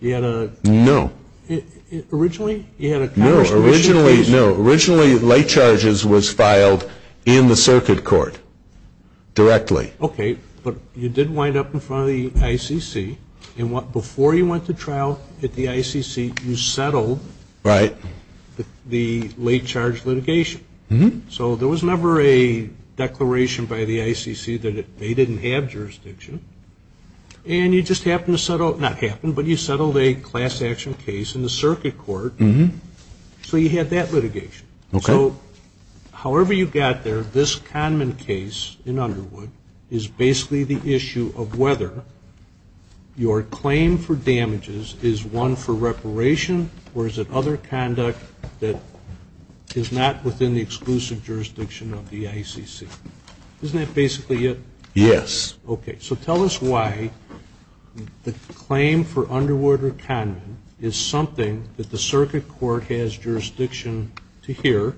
No. Originally? No, originally, no. Originally, late charges was filed in the circuit court, directly. Okay, but you did wind up in front of the ICC, and before you went to trial at the ICC, you settled the late charge litigation. So there was never a declaration by the ICC that they didn't have jurisdiction, and you just happened to settle, not happened, but you settled a class action case in the circuit court, so you had that litigation. Okay. So however you got there, this Kahneman case in Underwood is basically the issue of whether your claim for damages is one for reparation, or is it other conduct that is not within the exclusive jurisdiction of the ICC. Isn't that basically it? Yes. Is something that the circuit court has jurisdiction to hear,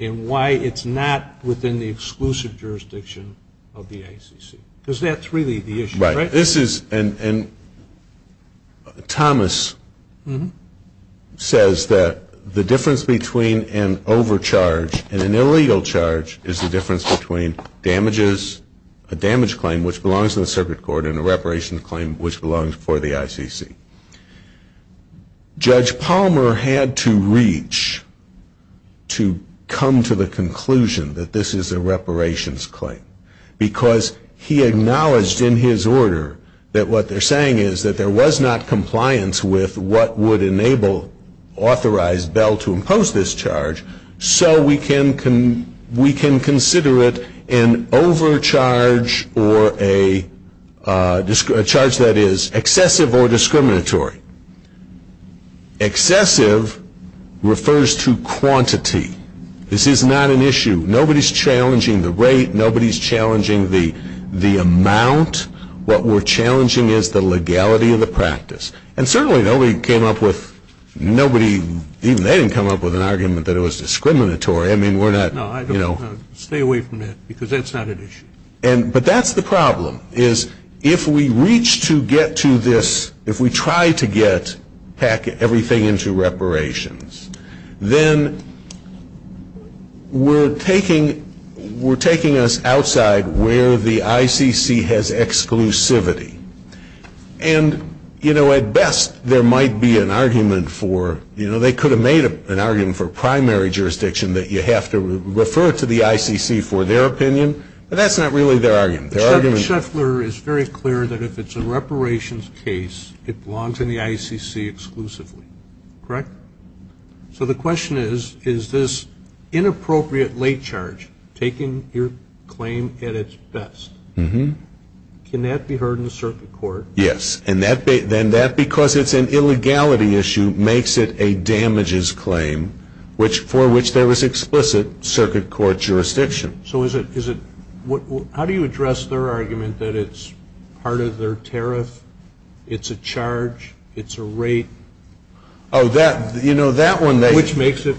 and why it's not within the exclusive jurisdiction of the ICC. Because that's really the issue, right? Right. This is, and Thomas says that the difference between an overcharge and an illegal charge is the difference between damages, a damage claim which belongs to the circuit court, and a reparations claim which belongs for the ICC. Judge Palmer had to reach to come to the conclusion that this is a reparations claim, because he acknowledged in his order that what they're saying is that there was not compliance with what would enable authorized Bell to impose this charge, so we can consider it an overcharge or a charge that is excessive or discriminatory. Excessive refers to quantity. This is not an issue. Nobody's challenging the rate. Nobody's challenging the amount. What we're challenging is the legality of the practice. And certainly nobody came up with, nobody, even they didn't come up with an argument that it was discriminatory. I mean, we're not, you know. No, I don't want to stay away from that, because that's not an issue. But that's the problem, is if we reach to get to this, if we try to get everything into reparations, then we're taking us outside where the ICC has exclusivity. And, you know, at best, there might be an argument for, you know, they could have made an argument for primary jurisdiction that you have to refer to the ICC for their opinion, but that's not really their argument. But Sheffler is very clear that if it's a reparations case, it belongs in the ICC exclusively, correct? So the question is, is this inappropriate late charge taking your claim at its best? Can that be heard in the circuit court? Yes. And that, because it's an illegality issue, makes it a damages claim, for which there was explicit circuit court jurisdiction. So is it, how do you address their argument that it's part of their tariff, it's a charge, it's a rape? Oh, that, you know, that one they. Which makes it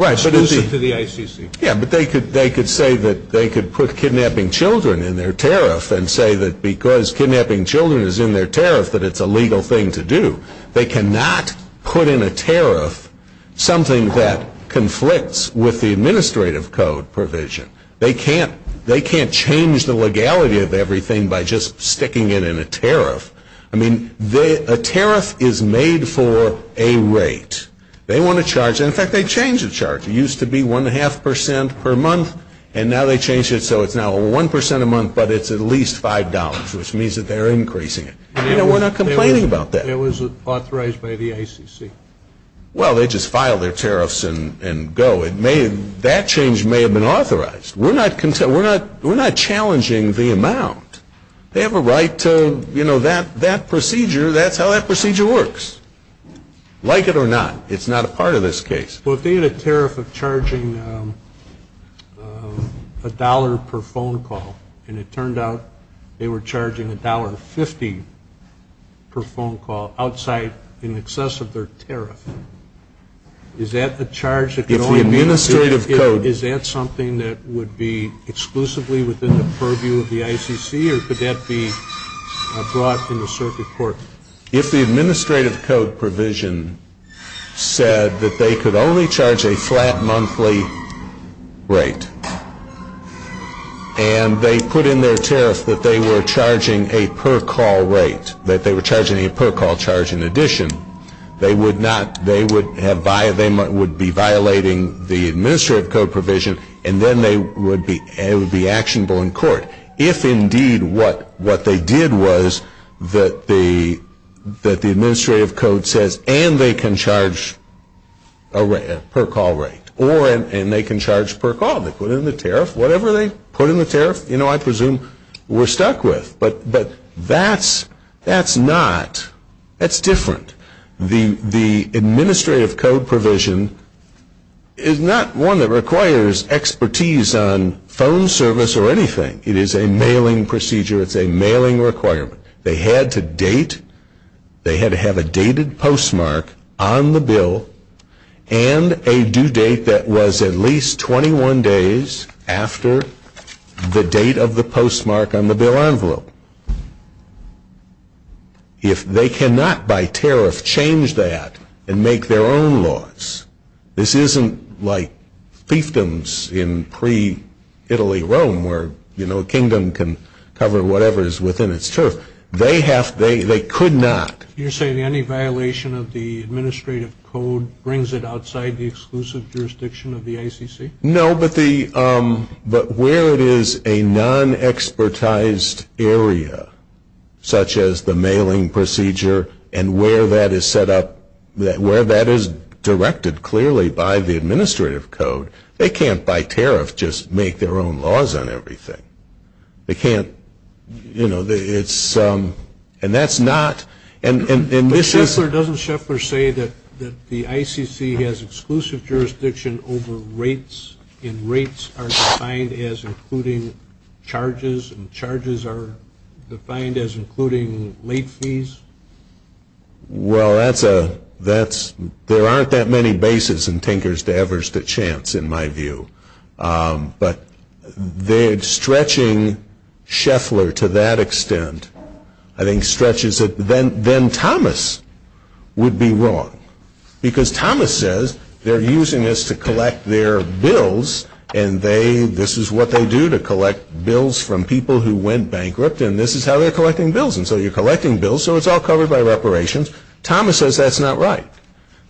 exclusive to the ICC. Yeah, but they could say that they could put kidnapping children in their tariff and say that because kidnapping children is in their tariff that it's a legal thing to do. They cannot put in a tariff something that conflicts with the administrative code provision. They can't change the legality of everything by just sticking it in a tariff. I mean, a tariff is made for a rate. They want a charge. In fact, they change the charge. It used to be 1.5% per month, and now they change it so it's now 1% a month, but it's at least $5, which means that they're increasing it. And we're not complaining about that. It was authorized by the ICC. Well, they just filed their tariffs and go. That change may have been authorized. We're not challenging the amount. They have a right to, you know, that procedure, that's how that procedure works. Like it or not, it's not a part of this case. Well, if they had a tariff of charging $1 per phone call, and it turned out they were charging $1.50 per phone call outside in excess of their tariff, is that the charge that can only be issued here? Is that something that would be exclusively within the purview of the ICC, or could that be blocked in the circuit court? If the administrative code provision said that they could only charge a flat monthly rate and they put in their tariff that they were charging a per call rate, that they were charging a per call charge in addition, they would be violating the administrative code provision, and then they would be actionable in court. But if indeed what they did was that the administrative code says, and they can charge a per call rate, or they can charge per call, they put in the tariff, whatever they put in the tariff, you know, I presume we're stuck with. But that's not. That's different. The administrative code provision is not one that requires expertise on phone service or anything. It is a mailing procedure. It's a mailing requirement. They had to date. They had to have a dated postmark on the bill and a due date that was at least 21 days after the date of the postmark on the bill envelope. If they cannot by tariff change that and make their own laws, this isn't like fiefdoms in pre-Italy Rome where, you know, a kingdom can cover whatever is within its turf. They could not. You're saying any violation of the administrative code brings it outside the exclusive jurisdiction of the ICC? No, but where it is a non-expertized area, such as the mailing procedure, and where that is set up, where that is directed clearly by the administrative code, they can't by tariff just make their own laws on everything. They can't, you know, and that's not. Doesn't Scheffler say that the ICC has exclusive jurisdiction over rates and rates are defined as including charges and charges are defined as including late fees? Well, there aren't that many bases in Tinker's Davers that chance, in my view. But they're stretching Scheffler to that extent. I think stretches that then Thomas would be wrong because Thomas says they're using this to collect their bills and this is what they do to collect bills from people who went bankrupt and this is how they're collecting bills and so you're collecting bills so it's all covered by reparations. Thomas says that's not right.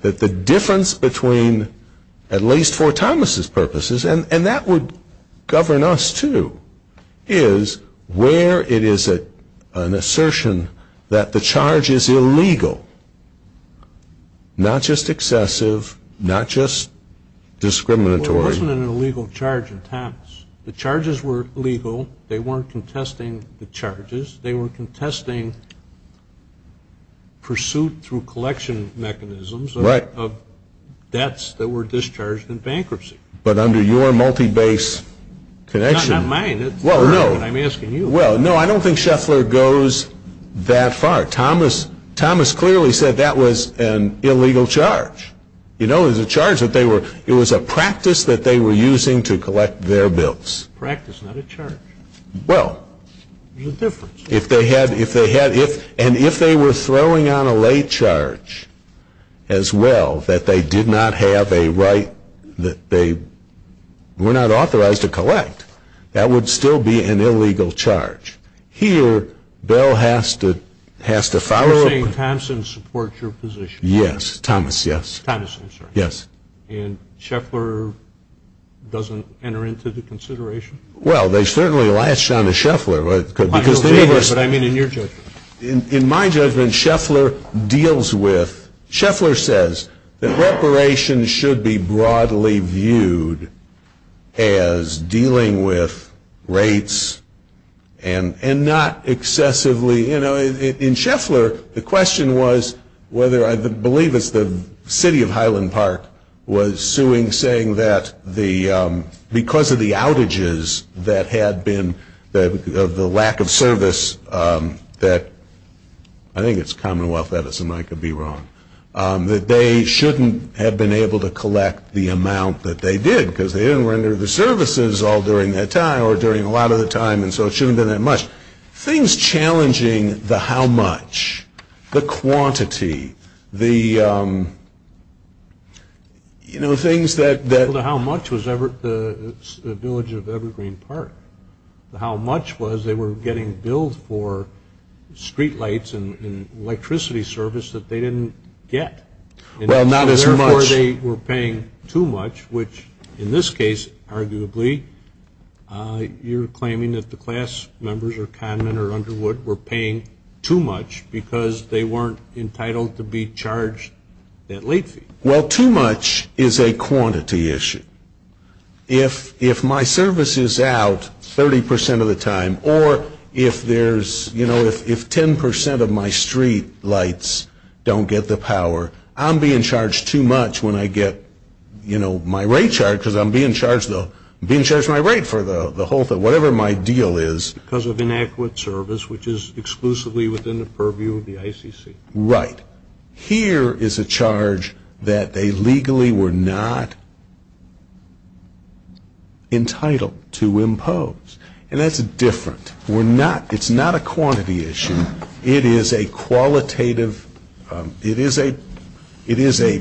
That the difference between, at least for Thomas' purposes, and that would govern us too, is where it is an assertion that the charge is illegal, not just excessive, not just discriminatory. There wasn't an illegal charge in Thomas. The charges were legal. They weren't contesting the charges. They were contesting pursuit through collection mechanisms of debts that were discharged in bankruptcy. But under your multi-base connection. Not mine. I'm asking you. Well, no, I don't think Scheffler goes that far. Thomas clearly said that was an illegal charge. It was a practice that they were using to collect their bills. Practice, not a charge. Well. There's a difference. If they had, and if they were throwing on a late charge as well, that they did not have a right, that they were not authorized to collect, that would still be an illegal charge. Here, Bell has to follow. You're saying Thomson supports your position. Yes, Thomas, yes. Thomas, I'm sorry. Yes. And Scheffler doesn't enter into the consideration? Well, they certainly latched on to Scheffler. What do you mean in your judgment? In my judgment, Scheffler deals with, Scheffler says that reparations should be broadly viewed as dealing with rates and not excessively, you know, in Scheffler, the question was whether, I believe it's the city of Highland Park was suing, saying that because of the outages that had been the lack of service that, I think it's Commonwealth Edison, I could be wrong, that they shouldn't have been able to collect the amount that they did, because they didn't render the services all during that time or during a lot of the time, and so it shouldn't have been that much. Things challenging the how much, the quantity, the, you know, things that the how much was the village of Evergreen Park, the how much was they were getting billed for streetlights and electricity service that they didn't get. Well, not as much. Therefore, they were paying too much, which in this case, arguably, you're claiming that the class members or conmen or underwood were paying too much because they weren't entitled to be charged that late fee. Well, too much is a quantity issue. If my service is out 30% of the time or if there's, you know, if 10% of my streetlights don't get the power, I'm being charged too much when I get, you know, my rate charged, because I'm being charged my rate for the whole thing, whatever my deal is. Because of inadequate service, which is exclusively within the purview of the ICC. Right. Here is a charge that they legally were not entitled to impose, and that's different. We're not, it's not a quantity issue. It is a qualitative, it is a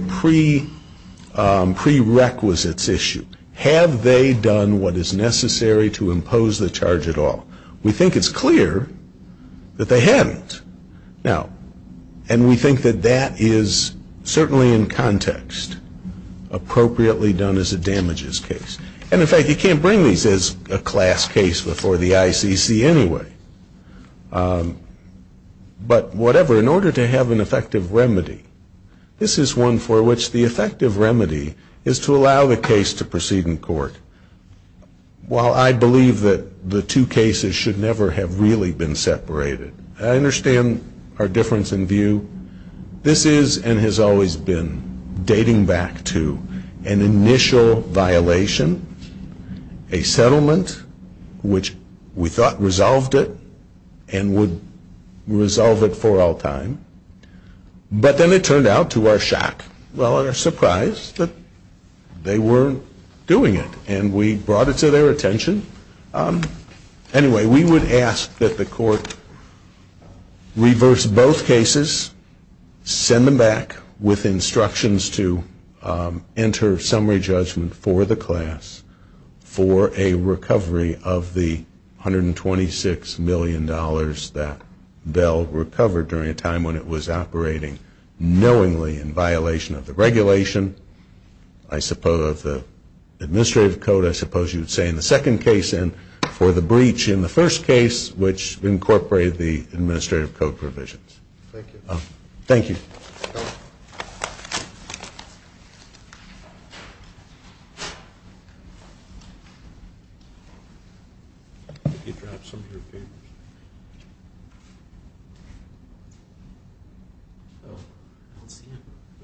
prerequisites issue. Have they done what is necessary to impose the charge at all? We think it's clear that they haven't. Now, and we think that that is certainly in context appropriately done as a damages case. And in fact, you can't bring these as a class case before the ICC anyway. But whatever, in order to have an effective remedy, this is one for which the effective remedy is to allow the case to proceed in court. While I believe that the two cases should never have really been separated, I understand our difference in view. This is and has always been dating back to an initial violation, a settlement, which we thought resolved it and would resolve it for all time. But then it turned out to our shock, well, and our surprise, that they weren't doing it. And we brought it to their attention. Anyway, we would ask that the court reverse both cases, send them back with instructions to enter summary judgment for the class for a recovery of the $126 million that Bell recovered during a time when it was operating knowingly in violation of the regulation. I suppose the administrative code, I suppose you would say in the second case and for the breach in the first case, which incorporated the administrative code provisions. Thank you.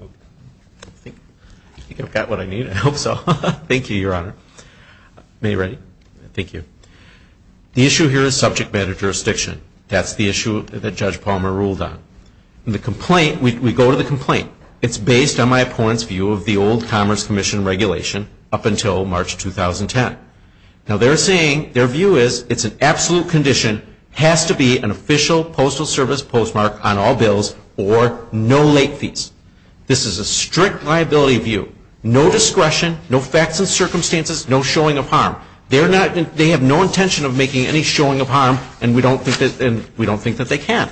I think I've got what I need. I hope so. Thank you, Your Honor. Are we ready? Thank you. The issue here is subject matter jurisdiction. That's the issue that Judge Palmer ruled on. In the complaint, we go to the complaint. It's based on my opponent's view of the old Commerce Commission regulation up until March 2010. Now, they're saying their view is it's an absolute condition, has to be an official Postal Service postmark on all bills or no late fees. This is a strict liability view. No discretion, no facts and circumstances, no showing of harm. They have no intention of making any showing of harm, and we don't think that they can.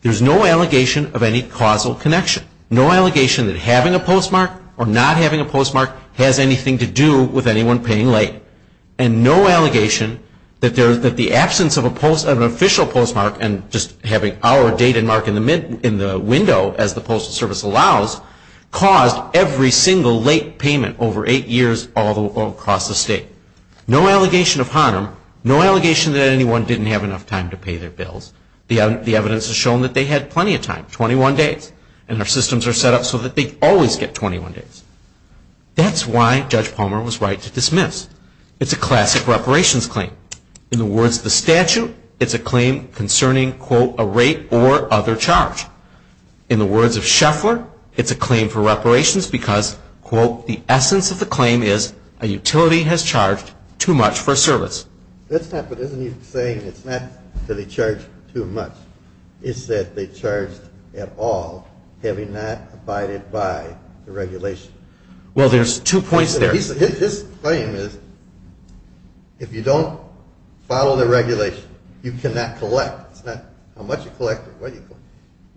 There's no allegation of any causal connection. No allegation that having a postmark or not having a postmark has anything to do with anyone paying late. And no allegation that the absence of an official postmark and just having our date and mark in the window, as the Postal Service allows, caused every single late payment over eight years all across the state. No allegation of harm. No allegation that anyone didn't have enough time to pay their bills. The evidence has shown that they had plenty of time, 21 days. And our systems are set up so that they always get 21 days. That's why Judge Palmer was right to dismiss. It's a classic reparations claim. In the words of the statute, it's a claim concerning, quote, a rate or other charge. In the words of Sheffler, it's a claim for reparations because, quote, the essence of the claim is a utility has charged too much for service. That's not what he's saying. It's not that he charged too much. It's that they charged at all, having not abided by the regulations. Well, there's two points there. His claim is if you don't follow the regulations, you cannot collect. It's not how much you collect or what you collect.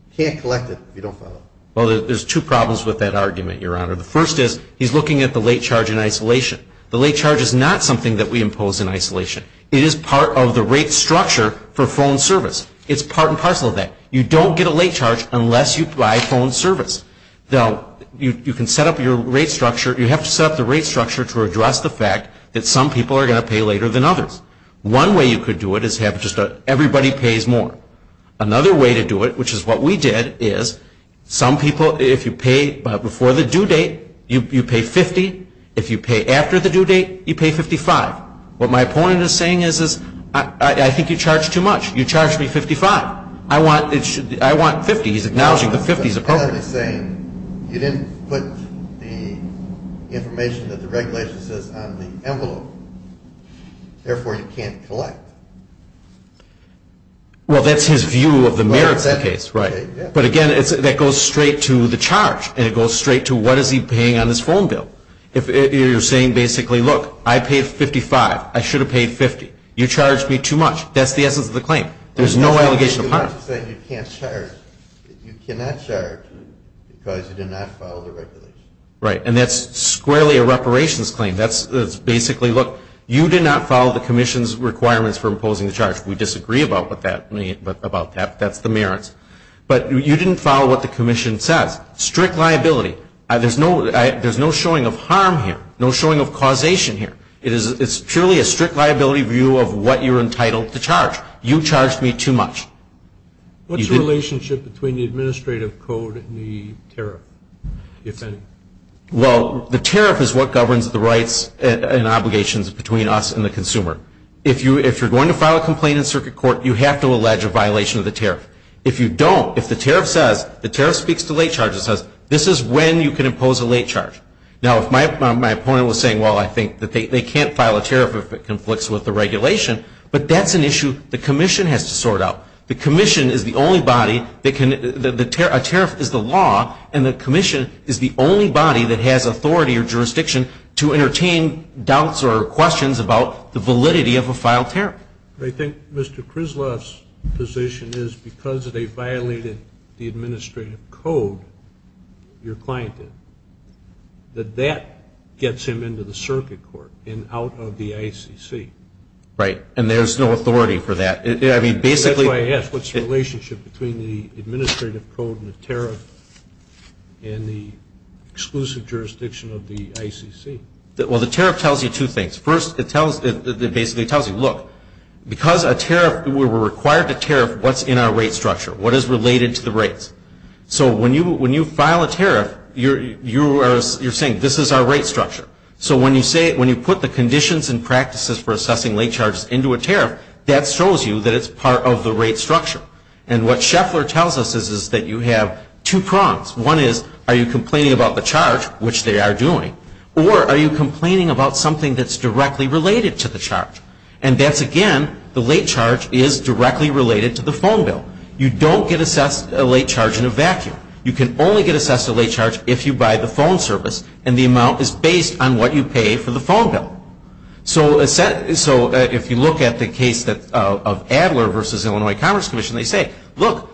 You can't collect it if you don't follow it. Well, there's two problems with that argument, Your Honor. The first is he's looking at the late charge in isolation. The late charge is not something that we impose in isolation. It is part of the rate structure for phone service. It's part and parcel of that. You don't get a late charge unless you provide phone service. You can set up your rate structure. You have to set up the rate structure to address the fact that some people are going to pay later than others. One way you could do it is have just everybody pays more. Another way to do it, which is what we did, is some people, if you pay before the due date, you pay $50. If you pay after the due date, you pay $55. What my opponent is saying is I think you charged too much. You charged me $55. I want $50. He's acknowledging that $50 is a problem. You didn't put the information that the regulation says on the envelope. Therefore, you can't collect. Well, that's his view of the merits of the case. Right. But, again, that goes straight to the charge, and it goes straight to what is he paying on this phone bill. You're saying basically, look, I paid $55. I should have paid $50. You charged me too much. That's the essence of the claim. There's no allegation of harm. You can't charge. You cannot charge because you did not follow the regulations. Right, and that's squarely a reparations claim. That's basically, look, you did not follow the commission's requirements for imposing the charge. We disagree about that. That's the merits. But you didn't follow what the commission said. Strict liability. There's no showing of harm here, no showing of causation here. It's purely a strict liability view of what you're entitled to charge. You charged me too much. What's the relationship between the administrative code and the tariff? Well, the tariff is what governs the rights and obligations between us and the consumer. If you're going to file a complaint in circuit court, you have to allege a violation of the tariff. If you don't, if the tariff says, the tariff speaks to late charges, this is when you can impose a late charge. Now, if my opponent was saying, well, I think that they can't file a tariff if it conflicts with the regulation, but that's an issue the commission has to sort out. The commission is the only body that can – a tariff is the law, and the commission is the only body that has authority or jurisdiction to entertain doubts or questions about the validity of a filed tariff. I think Mr. Krizloff's position is because they violated the administrative code, your client did, that that gets him into the circuit court and out of the ICC. Right, and there's no authority for that. That's why I asked what's the relationship between the administrative code and the tariff and the exclusive jurisdiction of the ICC. Well, the tariff tells you two things. First, it tells you, look, because a tariff – we're required to tariff what's in our rate structure, what is related to the rates. So, when you file a tariff, you're saying, this is our rate structure. So, when you put the conditions and practices for assessing late charges into a tariff, that shows you that it's part of the rate structure. And what Scheffler tells us is that you have two prongs. One is, are you complaining about the charge, which they are doing, or are you complaining about something that's directly related to the charge? And that's, again, the late charge is directly related to the phone bill. You don't get assessed a late charge in a vacuum. You can only get assessed a late charge if you buy the phone service and the amount is based on what you pay for the phone bill. So, if you look at the case of Adler v. Illinois Commerce Commission, they say, look,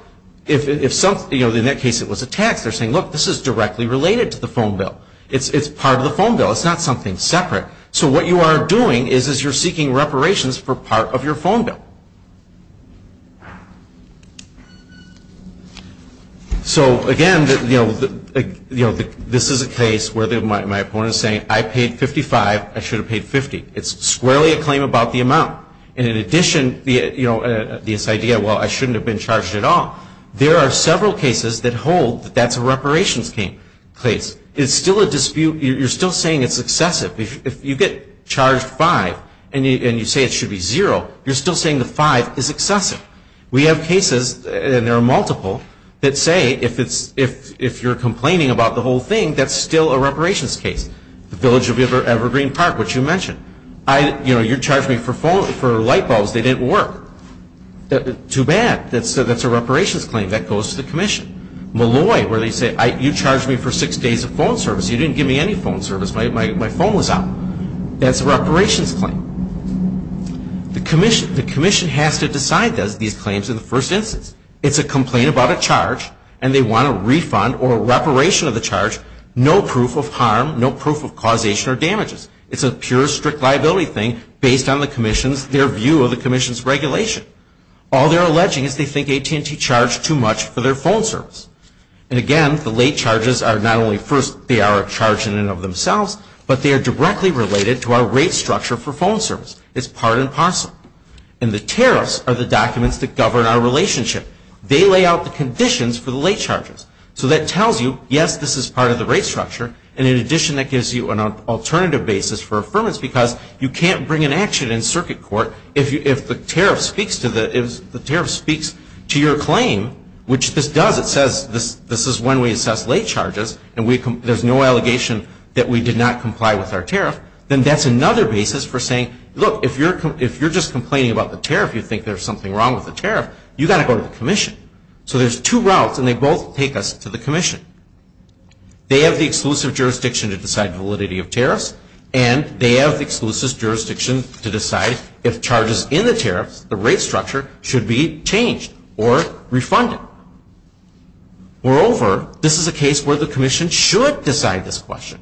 in that case it was a tax. They're saying, look, this is directly related to the phone bill. It's part of the phone bill. It's not something separate. So, what you are doing is you're seeking reparations for part of your phone bill. So, again, this is a case where my opponent is saying, I paid 55. I should have paid 50. It's squarely a claim about the amount. And in addition, this idea, well, I shouldn't have been charged at all. There are several cases that hold that that's a reparations case. It's still a dispute. You're still saying it's excessive. If you get charged five and you say it should be zero, you're still saying the five is excessive. We have cases, and there are multiple, that say if you're complaining about the whole thing, that's still a reparations case. The village of Evergreen Park, which you mentioned. You know, you charged me for light bulbs. They didn't work. Too bad. That's a reparations claim. That goes to the commission. Malloy, where they say, you charged me for six days of phone service. You didn't give me any phone service. My phone was out. That's a reparations claim. The commission has to decide those claims in the first instance. It's a complaint about a charge, and they want a refund or a reparation of the charge, no proof of harm, no proof of causation or damages. It's a pure strict liability thing based on the commission's, their view of the commission's regulation. All they're alleging is they think AT&T charged too much for their phone service. And again, the late charges are not only first, they are a charge in and of themselves, but they are directly related to our rate structure for phone service. It's part and parcel. And the tariffs are the documents that govern our relationship. They lay out the conditions for the late charges. So that tells you, yes, this is part of the rate structure, and in addition that gives you an alternative basis for affirmance, because you can't bring an action in circuit court if the tariff speaks to your claim, which this does. It says this is when we assess late charges, and there's no allegation that we did not comply with our tariff. Then that's another basis for saying, look, if you're just complaining about the tariff, you think there's something wrong with the tariff, you've got to go to the commission. So there's two routes, and they both take us to the commission. They have the exclusive jurisdiction to decide validity of tariffs, and they have the exclusive jurisdiction to decide if charges in the tariff, the rate structure, should be changed or refunded. Moreover, this is a case where the commission should decide this question.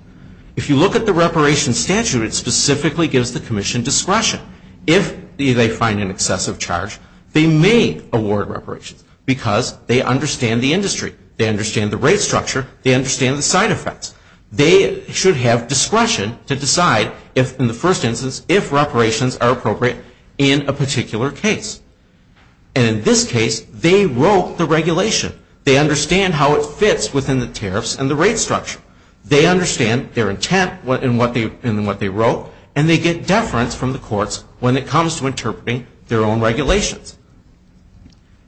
If you look at the reparation statute, it specifically gives the commission discretion. If they find an excessive charge, they may award reparation, because they understand the industry. They understand the rate structure. They understand the side effects. They should have discretion to decide, in the first instance, if reparations are appropriate in a particular case. And in this case, they wrote the regulation. They understand how it fits within the tariffs and the rate structure. They understand their intent in what they wrote, and they get deference from the courts when it comes to interpreting their own regulations.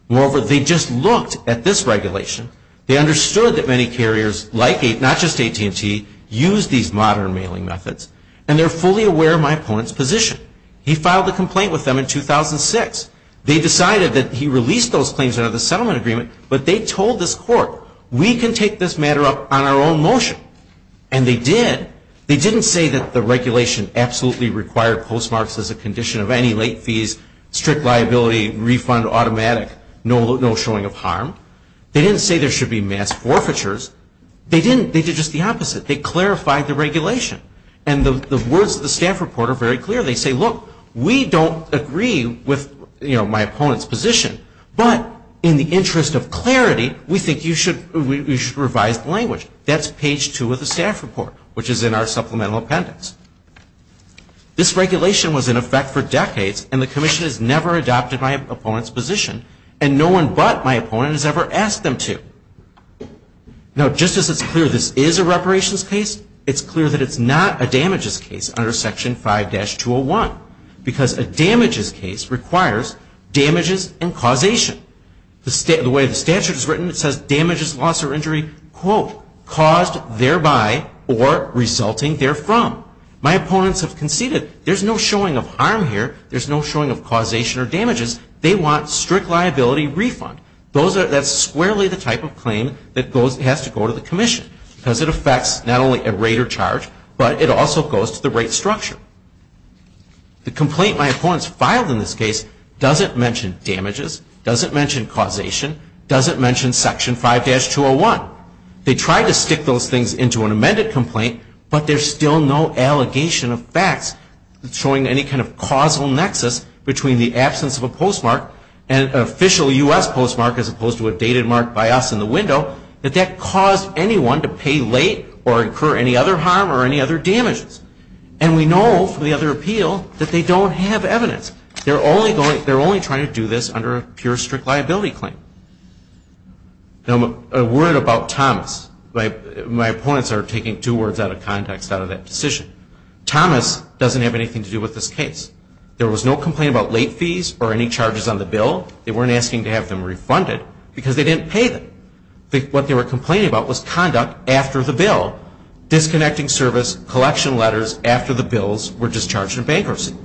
Moreover, they just looked at this regulation. They understood that many carriers, like APE, not just AT&T, use these modern mailing methods, and they're fully aware of my opponent's position. He filed a complaint with them in 2006. They decided that he released those claims under the settlement agreement, but they told this court, we can take this matter up on our own motion, and they did. They didn't say that the regulation absolutely required postmarks as a condition of any late fees, strict liability, refund automatic, no showing of harm. They didn't say there should be mass forfeitures. They did just the opposite. They clarified the regulation, and the words of the staff report are very clear. They say, look, we don't agree with my opponent's position, but in the interest of clarity, we think you should revise the language. That's page two of the staff report, which is in our supplemental appendix. This regulation was in effect for decades, and the commission has never adopted my opponent's position, and no one but my opponent has ever asked them to. Now, just as it's clear this is a reparations case, it's clear that it's not a damages case under section 5-201, because a damages case requires damages and causation. The way the statute is written, it says damages, loss, or injury, quote, caused thereby or resulting therefrom. My opponents have conceded. There's no showing of harm here. There's no showing of causation or damages. They want strict liability refund. That's squarely the type of claim that has to go to the commission, because it affects not only a rate or charge, but it also goes to the rate structure. The complaint in my opponent's file in this case doesn't mention damages, doesn't mention causation, doesn't mention section 5-201. They tried to stick those things into an amended complaint, but there's still no allegation of facts showing any kind of causal nexus between the absence of a postmark, an official U.S. postmark as opposed to a dated mark by us in the window, that that caused anyone to pay late or incur any other harm or any other damages. And we know from the other appeal that they don't have evidence. They're only trying to do this under a pure strict liability claim. A word about Thomas. My opponents are taking two words out of context out of that decision. Thomas doesn't have anything to do with this case. There was no complaint about late fees or any charges on the bill. They weren't asking to have them refunded because they didn't pay them. What they were complaining about was conduct after the bill. Disconnecting service, collection letters after the bills were discharged in bankruptcy.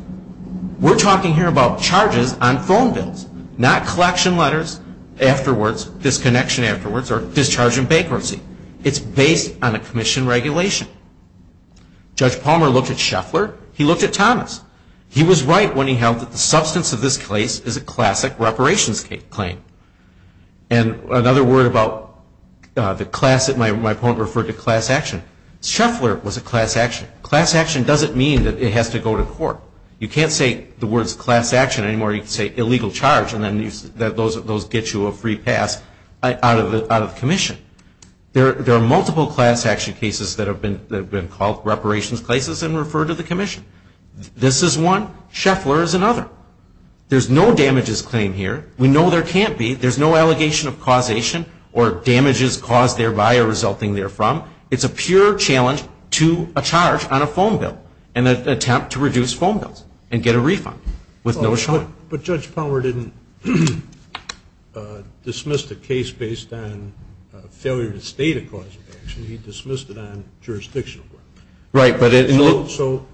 We're talking here about charges on phone bills, not collection letters afterwards, disconnection afterwards, or discharge in bankruptcy. It's based on a commission regulation. Judge Palmer looked at Scheffler. He looked at Thomas. He was right when he held that the substance of this case is a classic reparations claim. And another word about the class that my opponent referred to, class action. Scheffler was a class action. And class action doesn't mean that it has to go to court. You can't say the words class action anymore. You can say illegal charge and then those get you a free pass out of commission. There are multiple class action cases that have been called reparations cases and referred to the commission. This is one. Scheffler is another. There's no damages claim here. We know there can't be. There's no allegation of causation or damages caused thereby or resulting therefrom. It's a pure challenge to a charge on a phone bill and an attempt to reduce phone bills and get a refund with no charge. But Judge Palmer didn't dismiss the case based on failure to state a cause of action. He dismissed it on jurisdiction. Right. So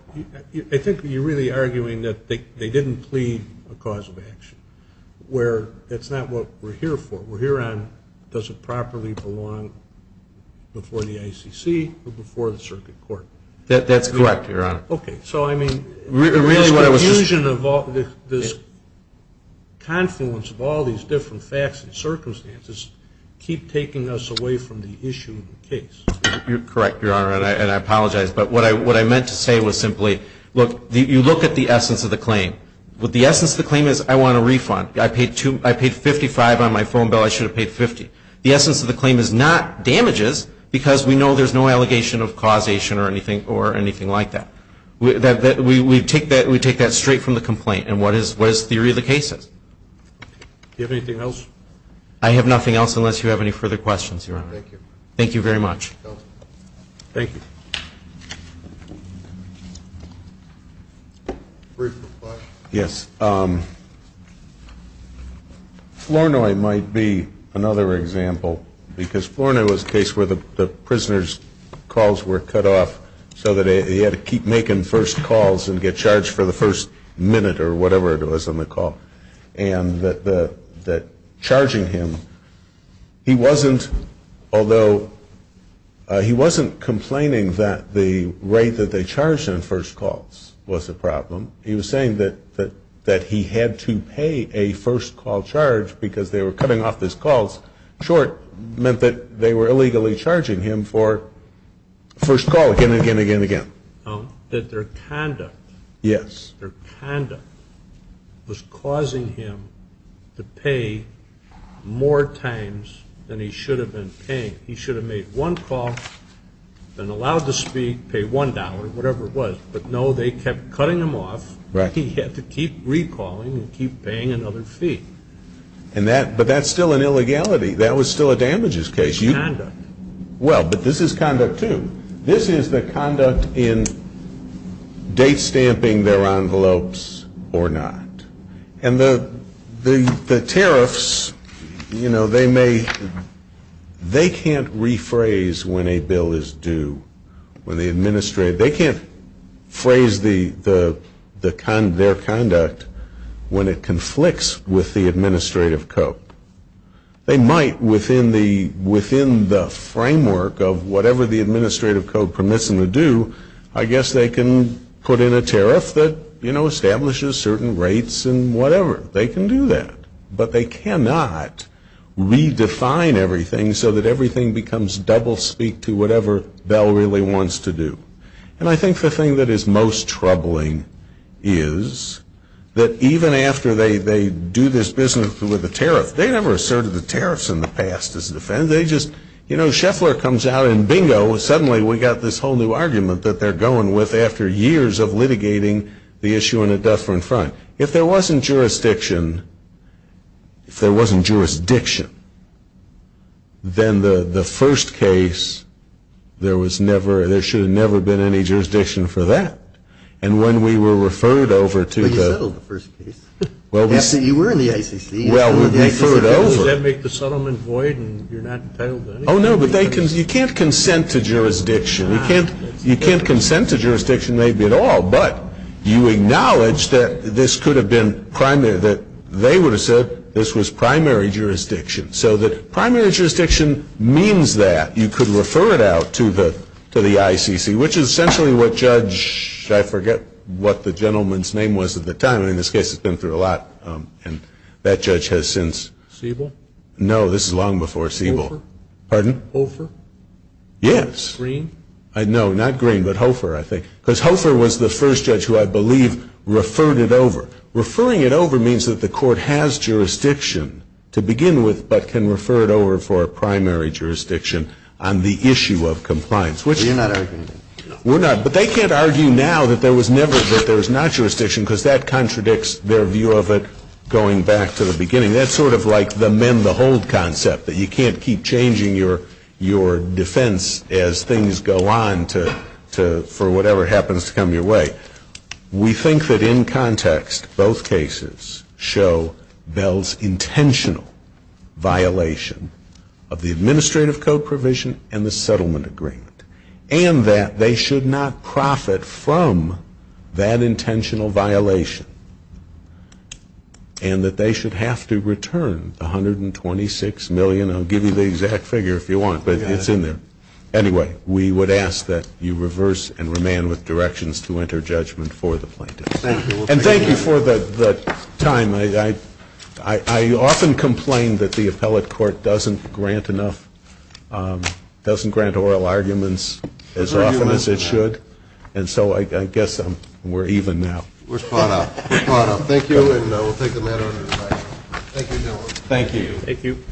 I think you're really arguing that they didn't plead a cause of action where that's not what we're here for. What we're here on, does it properly belong before the ICC or before the circuit court? That's correct, Your Honor. Okay. So, I mean, the confusion of this confluence of all these different facts and circumstances keep taking us away from the issue of the case. You're correct, Your Honor, and I apologize. But what I meant to say was simply, look, you look at the essence of the claim. The essence of the claim is I want a refund. I paid $55 on my phone bill. I should have paid $50. The essence of the claim is not damages because we know there's no allegation of causation or anything like that. We take that straight from the complaint. And what is the theory of the case? Do you have anything else? I have nothing else unless you have any further questions, Your Honor. Thank you. Thank you very much. Thank you. Yes. Flournoy might be another example because Flournoy was a case where the prisoner's calls were cut off so that he had to keep making first calls and get charged for the first minute or whatever it was on the call. And that charging him, he wasn't, although he wasn't complaining that the way that they charged him first calls was a problem. He was saying that he had to pay a first call charge because they were cutting off his calls short, meant that they were illegally charging him for first call again and again and again and again. That their conduct. Yes. Their conduct was causing him to pay more times than he should have been paying. He should have made one call and allowed to speak, pay $1, whatever it was. But, no, they kept cutting him off. Right. He had to keep recalling and keep paying another fee. But that's still an illegality. That was still a damages case. Conduct. Well, but this is conduct, too. This is the conduct in date stamping their envelopes or not. And the tariffs, you know, they may, they can't rephrase when a bill is due, when the administrator, they can't phrase their conduct when it conflicts with the administrative code. They might, within the framework of whatever the administrative code permits them to do, I guess they can put in a tariff that, you know, establishes certain rates and whatever. They can do that. But they cannot redefine everything so that everything becomes double speak to whatever Bell really wants to do. And I think the thing that is most troubling is that even after they do this business with a tariff, they never asserted the tariffs in the past as a defense. They just, you know, Sheffler comes out and bingo, suddenly we've got this whole new argument that they're going with after years of litigating the issue in a different front. If there wasn't jurisdiction, if there wasn't jurisdiction, then the first case, there was never, there should have never been any jurisdiction for that. And when we were referred over to the. You settled the first case. You were in the ICC. Well, we were referred over. Did that make the settlement void and you're not entitled to anything? Oh, no, but you can't consent to jurisdiction. You can't consent to jurisdiction maybe at all, but you acknowledge that this could have been primary that they would have said this was primary jurisdiction. So the primary jurisdiction means that you could refer it out to the to the ICC, which is essentially what judge. I forget what the gentleman's name was at the time. In this case, it's been through a lot. And that judge has since Siebel. No, this is long before Siebel. Pardon over. Yes. Green? No, not Green, but Hofer, I think. Because Hofer was the first judge who I believe referred it over. Referring it over means that the court has jurisdiction to begin with, but can refer it over for a primary jurisdiction on the issue of compliance. We're not arguing. We're not, but they can't argue now that there was never, that there was not jurisdiction, because that contradicts their view of it going back to the beginning. I mean, that's sort of like the mend the hold concept, that you can't keep changing your defense as things go on for whatever happens to come your way. We think that in context, both cases show Bell's intentional violation of the administrative code provision and the settlement agreement, and that they should not profit from that intentional violation, and that they should have to return $126 million. I'll give you the exact figure if you want, but it's in there. Anyway, we would ask that you reverse and remain with directions to enter judgment for the plaintiff. And thank you for the time. I often complain that the appellate court doesn't grant enough, doesn't grant oral arguments as often as it should, and so I guess we're even now. We're swallowed up. We're swallowed up. Thank you, and we'll take the matter under the table. Thank you, gentlemen. Thank you. Thank you.